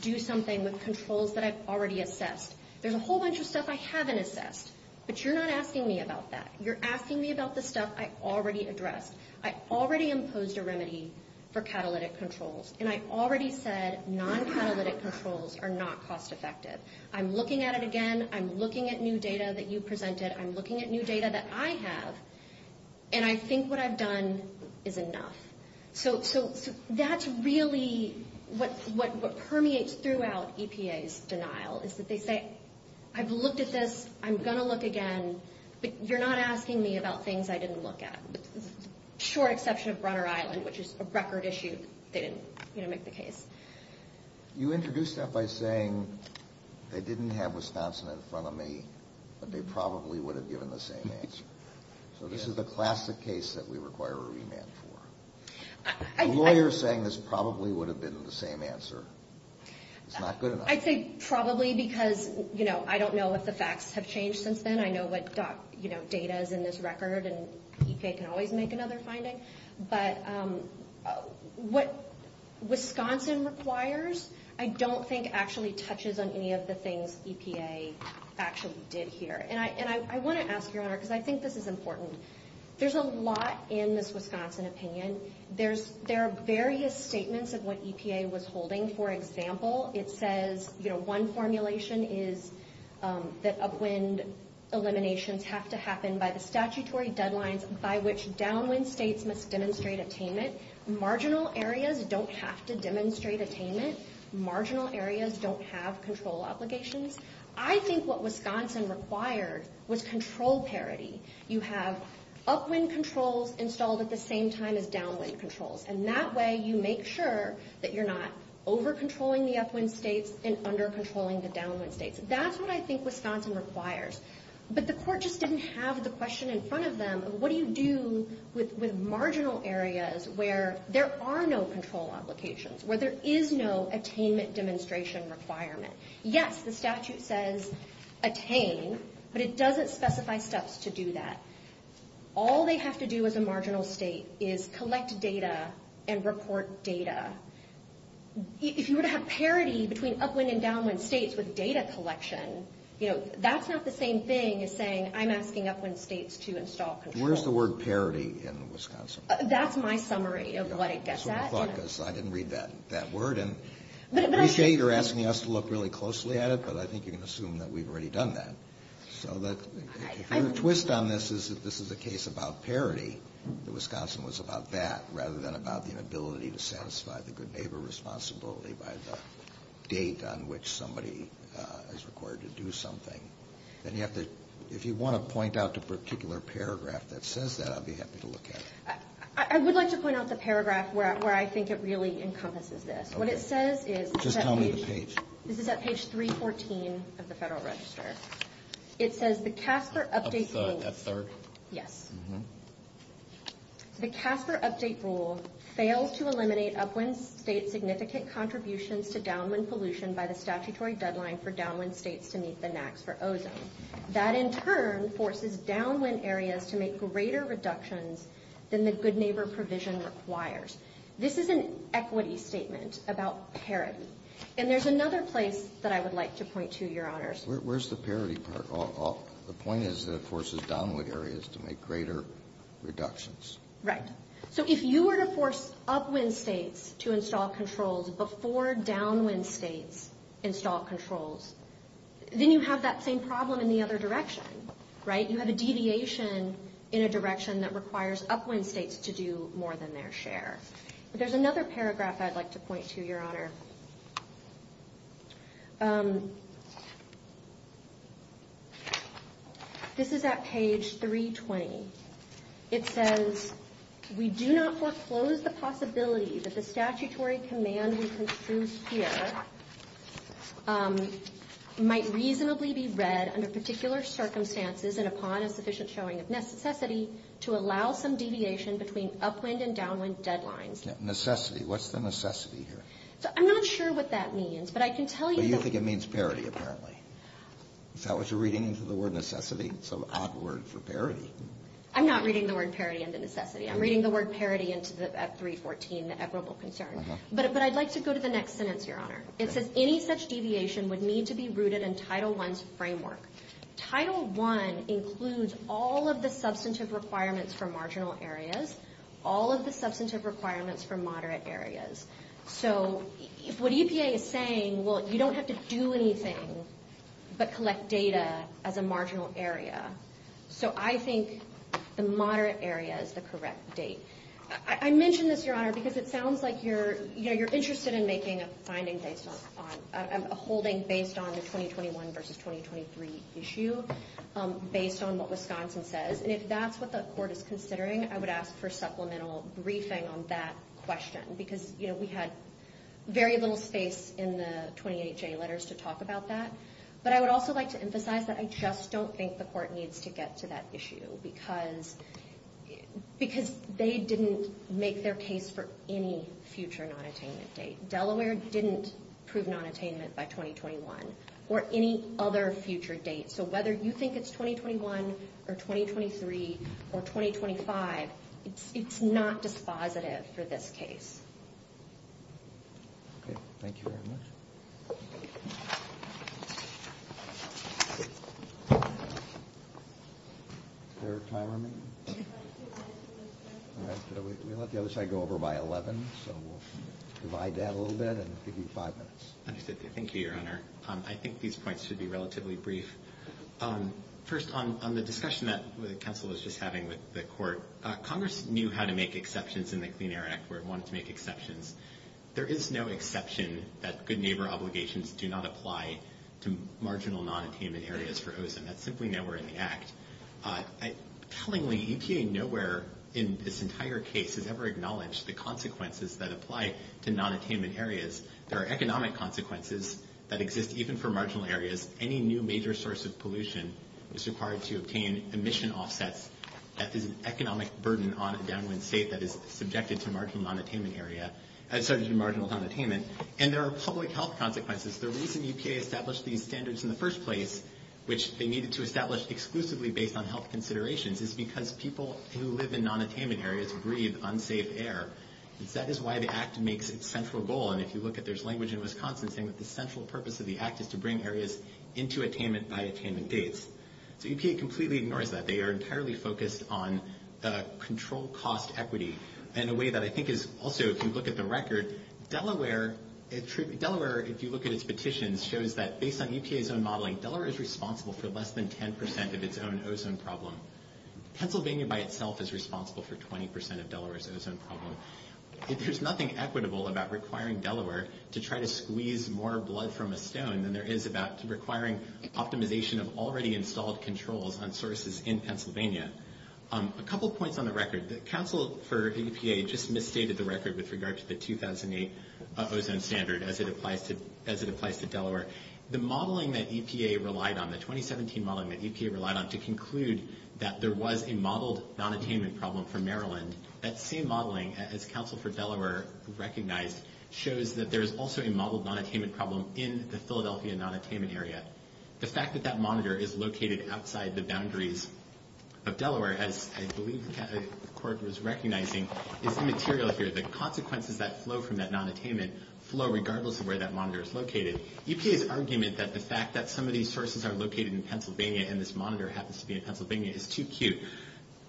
do something with controls that I've already assessed. There's a whole bunch of stuff I haven't assessed, but you're not asking me about that. You're asking me about the stuff I already addressed. I already imposed a remedy for catalytic controls, and I already said non-catalytic controls are not cost effective. I'm looking at it again. I'm looking at new data that you presented. I'm looking at new data that I have. And I think what I've done is enough. So that's really what permeates throughout EPA's denial is that they say, I've looked at this. I'm going to look again. You're not asking me about things I didn't look at. Short exception of Brunner Island, which is a record issue, didn't make the case. You introduced that by saying they didn't have Wisconsin in front of me, but they probably would have given the same answer. So this is a classic case that we require a remand for. The lawyer is saying this probably would have been the same answer. It's not good enough. I say probably because, you know, I don't know what the facts have changed since then. I know what data is in this record, and EPA can always make another finding. But what Wisconsin requires I don't think actually touches on any of the things EPA actually did here. And I want to ask, Your Honor, because I think this is important. There's a lot in this Wisconsin opinion. There are various statements of what EPA was holding. For example, it says, you know, one formulation is that upwind eliminations have to happen by the statutory deadlines by which downwind states must demonstrate attainment. Marginal areas don't have to demonstrate attainment. Marginal areas don't have control obligations. I think what Wisconsin requires was control parity. You have upwind controls installed at the same time as downwind controls, and that way you make sure that you're not over-controlling the upwind states and under-controlling the downwind states. That's what I think Wisconsin requires. But the court just didn't have the question in front of them of what do you do with marginal areas where there are no control obligations, where there is no attainment demonstration requirement. Yes, the statute says attain, but it doesn't specify steps to do that. All they have to do as a marginal state is collect data and report data. If you were to have parity between upwind and downwind states with data collection, you know, that's not the same thing as saying I'm asking upwind states to install control. Where's the word parity in Wisconsin? That's my summary of like that. That's what I thought because I didn't read that word, and I appreciate you're asking us to look really closely at it because I think you can assume that we've already done that. So the twist on this is if this is a case about parity, Wisconsin was about that rather than about the ability to satisfy the good neighbor responsibility by the date on which somebody is required to do something. And if you want to point out a particular paragraph that says that, I'd be happy to look at it. I would like to point out the paragraph where I think it really encompasses this. What it says is that page 314 of the Federal Register. It says the CASPER update rules fail to eliminate upwind state significant contributions to downwind solution by the statutory deadline for downwind states to meet the NACS or OZAs. That in turn forces downwind areas to make greater reductions than the good neighbor provision requires. This is an equity statement about parity. And there's another place that I would like to point to, Your Honors. Where's the parity part? The point is it forces downwind areas to make greater reductions. Right. So if you were to force upwind states to install controls before downwind states install controls, then you have that same problem in the other direction. Right. You have a deviation in a direction that requires upwind states to do more than their share. There's another paragraph I'd like to point to, Your Honor. This is at page 320. It says we do not foreclose the possibility that the statutory command we construed here might reasonably be read under particular circumstances and upon a sufficient showing of necessity to allow some deviation between upwind and downwind deadlines. Necessity. What's the necessity here? I'm not sure what that means, but I can tell you. So you think it means parity, apparently. So it's a reading into the word necessity. It's an odd word for parity. I'm not reading the word parity into necessity. I'm reading the word parity into the F-314, the equitable concern. But I'd like to go to the next sentence, Your Honor. It says any such deviation would need to be rooted in Title I's framework. Title I includes all of the substantive requirements for marginal areas, all of the substantive requirements for moderate areas. So what EPA is saying, well, you don't have to do anything but collect data as a marginal area. So I think the moderate area is the correct date. I mention this, Your Honor, because it sounds like you're interested in making a finding based on a holding based on the 2021 versus 2023 issue based on what Wisconsin says. And if that's what the court is considering, I would ask for supplemental briefing on that question because, you know, we had very little space in the 28-J letters to talk about that. But I would also like to emphasize that I just don't think the court needs to get to that issue because they didn't make their case for any future nonattainment date. Delaware didn't prove nonattainment by 2021 or any other future date. So whether you think it's 2021 or 2023 or 2025, it's not dispositive for this case. Thank you very much. Is there time remaining? We'll let the other side go over by 11, so we'll divide that a little bit and give you five minutes. Thank you, Your Honor. I think these points should be relatively brief. First, on the discussion that Kessler was just having with the court, Congress knew how to make exceptions in the Clean Air Act where it wanted to make exceptions. There is no exception that good neighbor obligations do not apply to marginal nonattainment areas for OZM. That's simply nowhere in the Act. Tellingly, UTA nowhere in this entire case has ever acknowledged the consequences that apply to nonattainment areas. There are economic consequences that exist even for marginal areas. Any new major source of pollution is required to obtain emission offsets. That is an economic burden on a downwind state that is subjected to marginal nonattainment area, as such in marginal nonattainment. And there are public health consequences. The reason UTA established these standards in the first place, which they needed to establish exclusively based on health considerations, is because people who live in nonattainment areas breathe unsafe air. That is why the Act makes its central goal. And if you look at this language in Wisconsin, it's saying that the central purpose of the Act is to bring areas into attainment by attainment dates. So UTA completely ignores that. They are entirely focused on the control cost equity in a way that I think is also, if you look at the record, Delaware, if you look at its petition, shows that based on UTA's own modeling, Delaware is responsible for less than 10 percent of its own OZM problem. Pennsylvania by itself is responsible for 20 percent of Delaware's OZM problem. There's nothing equitable about requiring Delaware to try to squeeze more blood from a stone than there is about requiring optimization of already installed controls on sources in Pennsylvania. A couple points on the record. The Council for EPA just misstated the record with regards to the 2008 OZM standard as it applies to Delaware. The modeling that EPA relied on, the 2017 modeling that EPA relied on, to conclude that there was a modeled nonattainment problem for Maryland, that same modeling as Council for Delaware recognized, shows that there is also a modeled nonattainment problem in the Philadelphia nonattainment area. The fact that that monitor is located outside the boundaries of Delaware, as I believe the record was recognizing, is immaterial here. The consequences that flow from that nonattainment flow regardless of where that monitor is located. EPA's argument that the fact that some of these sources are located in Pennsylvania and this monitor happens to be in Pennsylvania is too cute.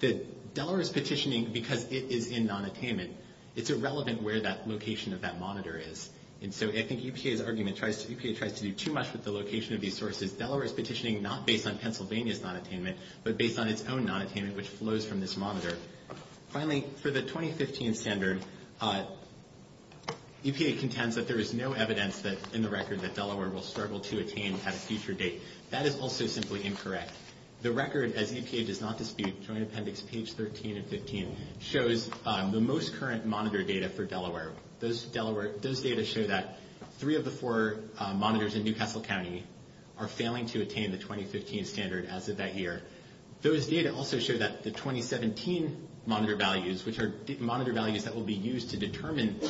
That Delaware's petitioning because it is in nonattainment, it's irrelevant where that location of that monitor is. And so I think EPA's argument, EPA tries to do too much with the location of these sources. Delaware is petitioning not based on Pennsylvania's nonattainment, but based on its own nonattainment which flows from this monitor. Finally, for the 2015 standard, EPA contends that there is no evidence in the record that Delaware will struggle to attain at a future date. That is also simply incorrect. The record, as EPA does not dispute, joint appendix page 13 and 15, shows the most current monitor data for Delaware. Those data show that three of the four monitors in New Castle County are failing to attain the 2015 standard as of that year. Those data also show that the 2017 monitor values, which are monitor values that will be used to determine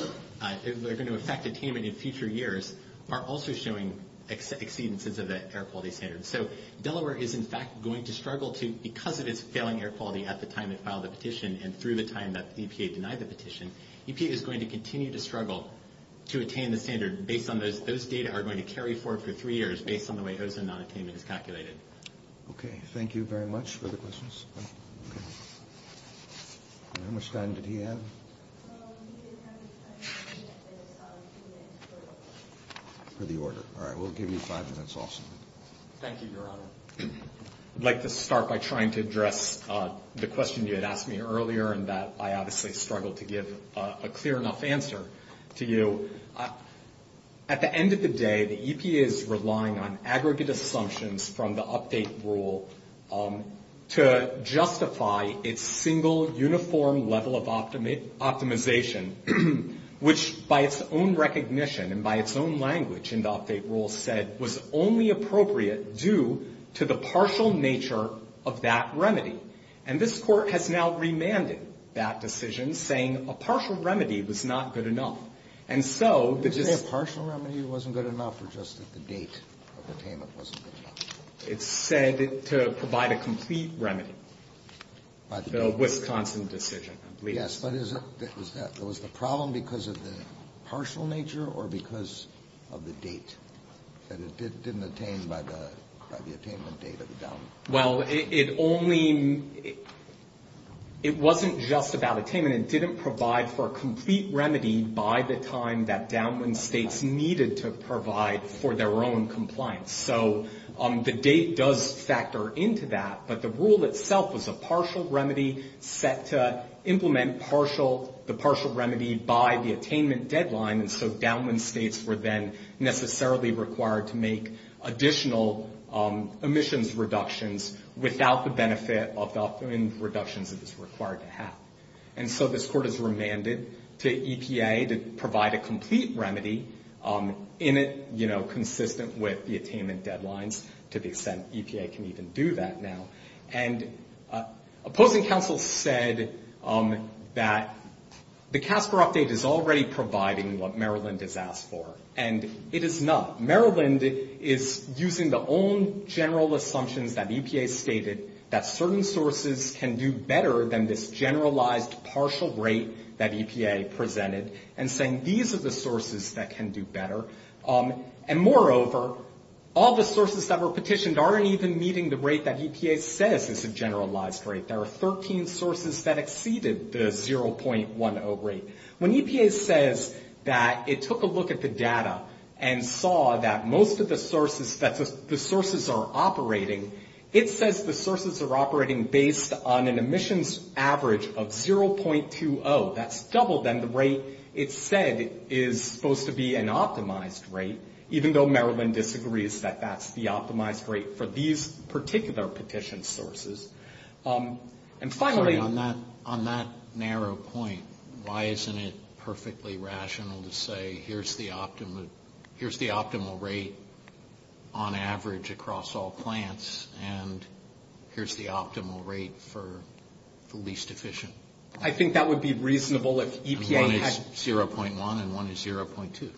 if they're going to affect attainment in future years, are also showing exceedances of that air quality standard. So Delaware is in fact going to struggle to, because of its failing air quality at the time it filed the petition and through the time that EPA denied the petition, EPA is going to continue to struggle to attain the standard based on those data are going to carry forward for three years based on the way those nonattainments are calculated. Okay, thank you very much for the questions. How much time did he have? For the order. All right, we'll give you five minutes also. Thank you, Your Honor. I'd like to start by trying to address the question you had asked me earlier and that I obviously struggled to give a clear enough answer to you. At the end of the day, the EPA is relying on aggregate assumptions from the update rule to justify its single uniform level of optimization, which by its own recognition and by its own language in the update rule said was only appropriate due to the partial nature of that remedy. And this court has now remanded that decision, saying a partial remedy was not good enough. Is it a partial remedy that wasn't good enough or just that the date of attainment wasn't good enough? It said to provide a complete remedy. The Wisconsin decision. Yes, but is it, was that, was the problem because of the partial nature or because of the date that it didn't attain by the attainment date of the document? Well, it only, it wasn't just about attainment. It didn't provide for a complete remedy by the time that for their own compliance. So the date does factor into that, but the rule itself was a partial remedy set to implement partial, the partial remedy by the attainment deadline. And so downland states were then necessarily required to make additional emissions reductions without the benefit of the reductions it was required to have. And so this court has remanded to EPA to provide a complete remedy in it, you know, consistent with the attainment deadlines to the extent EPA can even do that now. And opposing counsel said that the CASPER update is already providing what Maryland has asked for. And it is not. Maryland is using the own general assumptions that EPA has stated that certain sources can do better than this generalized partial rate that EPA presented and saying these are the sources that can do better. And moreover, all the sources that were petitioned aren't even meeting the rate that EPA says is a generalized rate. There are 13 sources that exceeded the 0.10 rate. When EPA says that it took a look at the data and saw that most of the sources, that the sources are operating, it says the sources are operating based on an emissions average of 0.20. That's double than the rate it said is supposed to be an optimized rate, even though Maryland disagrees that that's the optimized rate for these particular petition sources. And finally... On that narrow point, why isn't it perfectly rational to say here's the optimal rate on average across all plants and here's the optimal rate for least efficient? I think that would be reasonable if EPA... One is 0.1 and one is 0.2.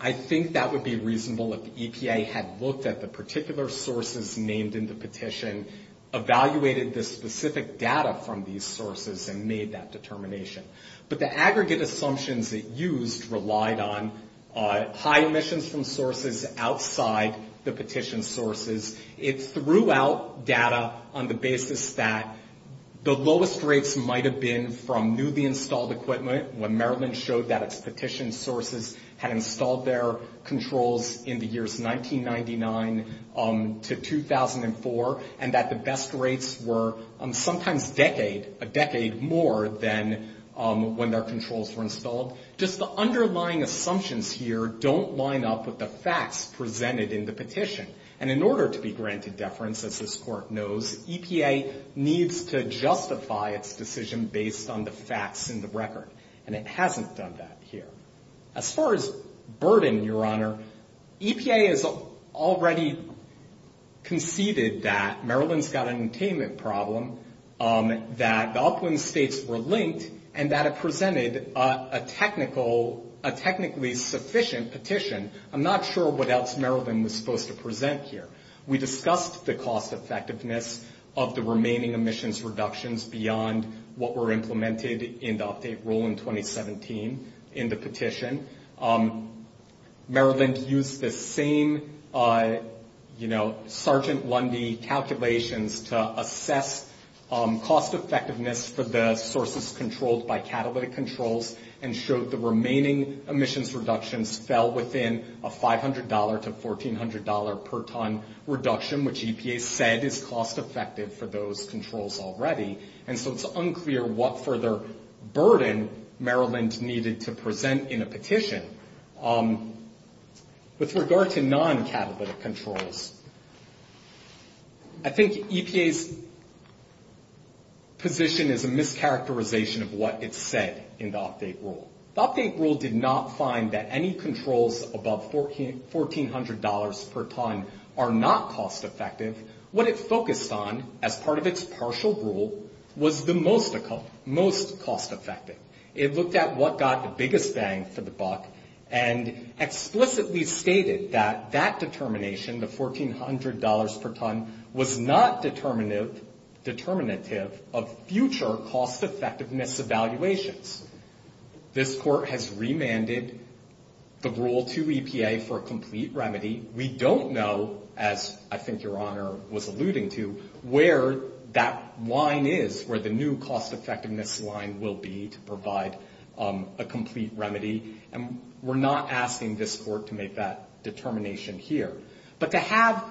I think that would be reasonable if EPA had looked at the particular sources named in the petition, evaluated the specific data from these sources, and made that determination. But the aggregate assumptions it used relied on high emissions from sources outside the petition sources. It threw out data on the basis that the lowest rates might have been from newly installed equipment, when Maryland showed that its petition sources had installed their controls in the years 1999 to 2004, and that the best rates were sometimes a decade more than when their controls were installed. Just the underlying assumptions here don't line up with the facts presented in the petition. And in order to be granted deference, as this court knows, EPA needs to justify its decision based on the facts in the record. And it hasn't done that here. As far as burden, Your Honor, EPA has already conceded that Maryland's got an attainment problem, that the upland states were linked, and that it presented a technically sufficient petition. I'm not sure what else Maryland was supposed to present here. We discussed the cost-effectiveness of the remaining emissions reductions beyond what were implemented in the update rule in 2017 in the petition. Maryland used the same, you know, Sergeant Lundy calculations to assess cost-effectiveness for the sources controlled by catalytic controls and showed the remaining emissions reductions fell within a $500 to $1,400 per ton reduction, which EPA said is cost-effective for those controls already. And so it's unclear what further burden Maryland needed to present in a petition. With regard to non-catalytic controls, I think EPA's position is a mischaracterization of what it said in the update rule. The update rule did not find that any controls above $1,400 per ton are not cost-effective. What it focused on as part of its partial rule was the most cost-effective. It looked at what got the biggest bang for the buck and explicitly stated that that determination, the $1,400 per ton, was not determinative of future cost-effectiveness evaluations. This court has remanded the Rule 2 EPA for a complete remedy. We don't know, as I think Your Honor was alluding to, where that line is, where the new cost-effectiveness line will be to provide a complete remedy, and we're not asking this court to make that determination here. But to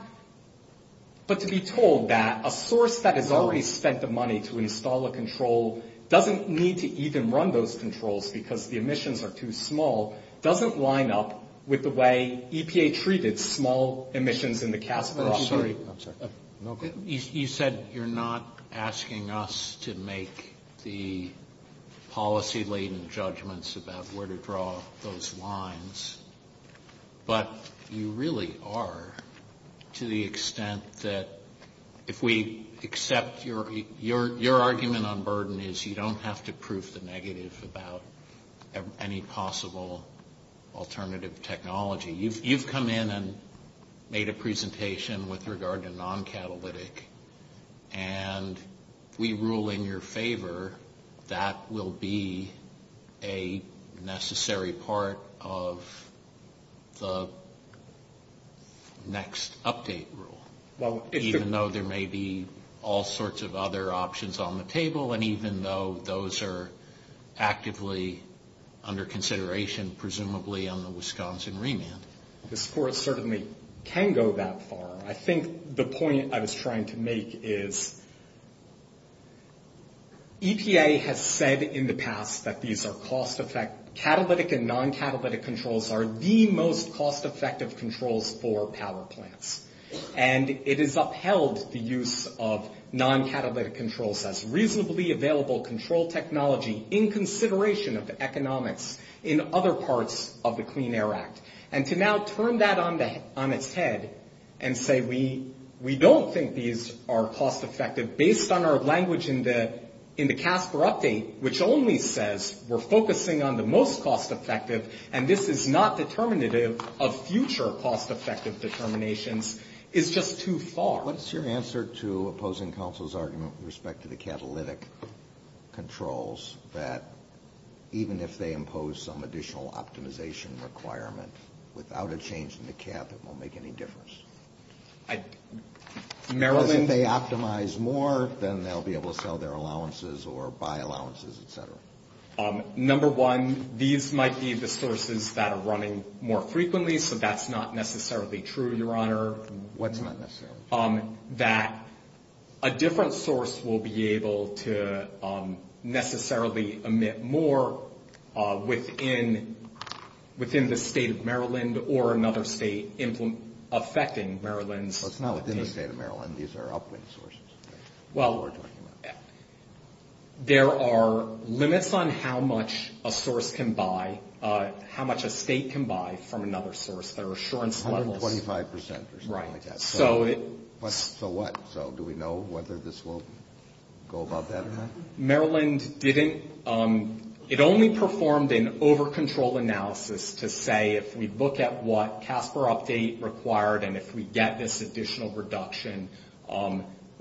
be told that a source that has already spent the money to install a control doesn't need to even run those controls because the emissions are too small doesn't line up with the way EPA treated small emissions in the category. I'm sorry. You said you're not asking us to make the policy-laden judgments about where to draw those lines, but you really are to the extent that if we accept your argument on burden is you don't have to prove the negatives about any possible alternative technology. You've come in and made a presentation with regard to non-catalytic, and we rule in your favor that will be a necessary part of the next update rule, even though there may be all sorts of other options on the table and even though those are actively under consideration, presumably, on the Wisconsin remand. This court certainly can go that far. I think the point I was trying to make is EPA has said in the past that these are cost-effective. Non-catalytic and non-catalytic controls are the most cost-effective controls for power plants, and it has upheld the use of non-catalytic controls as reasonably available control technology in consideration of economics in other parts of the Clean Air Act, and to now turn that on its head and say we don't think these are cost-effective, based on our language in the CAF for update, which only says we're focusing on the most cost-effective and this is not determinative of future cost-effective determinations, is just too far. What's your answer to opposing counsel's argument with respect to the catalytic controls that even if they impose some additional optimization requirement without a change in the CAF, it won't make any difference? If they optimize more, then they'll be able to sell their allowances or buy allowances, et cetera. Number one, these might be the sources that are running more frequently, so that's not necessarily true, Your Honor. What's not necessarily true? That a different source will be able to necessarily emit more within the state of Maryland or another state affecting Maryland? Well, it's not within the state of Maryland. These are uplink sources. Well, there are limits on how much a source can buy, how much a state can buy from another source. There are assurance levels. 125% or something like that. Right. So what? So do we know whether this will go above that amount? No, Maryland didn't. It only performed an over-control analysis to say if we look at what CASPER update required and if we get this additional reduction,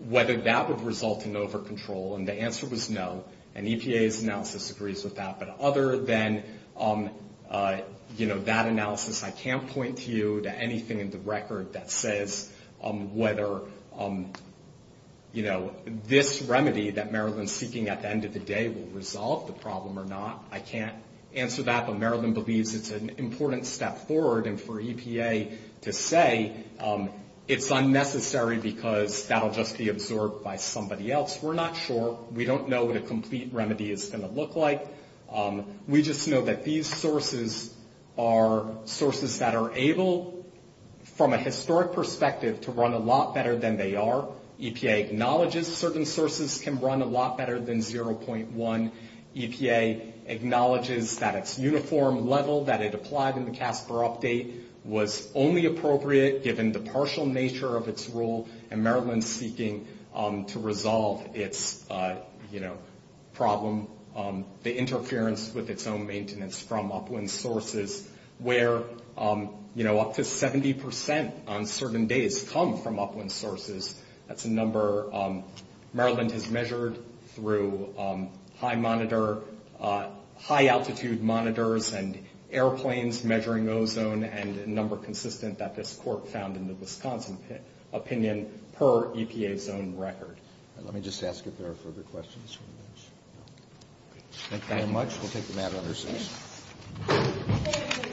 whether that would result in over-control, and the answer was no, and EPA's analysis agrees with that. But other than that analysis, I can't point to you to anything in the record that says whether, you know, this remedy that Maryland's seeking at the end of the day will resolve the problem or not. I can't answer that, but Maryland believes it's an important step forward, and for EPA to say it's unnecessary because that will just be observed by somebody else. We're not sure. We don't know what a complete remedy is going to look like. We just know that these sources are sources that are able, from a historic perspective, to run a lot better than they are. EPA acknowledges certain sources can run a lot better than 0.1. EPA acknowledges that its uniform level that it applied in the CASPER update was only appropriate, given the partial nature of its rule, and Maryland's seeking to resolve its, you know, problem, the interference with its own maintenance from upwind sources where, you know, up to 70% on certain days come from upwind sources. That's a number Maryland has measured through high altitude monitors and airplanes measuring ozone and a number consistent that this court found in the Wisconsin opinion per EPA's own record. Let me just ask if there are further questions from the audience. Thank you very much. We'll take the mat on the other side.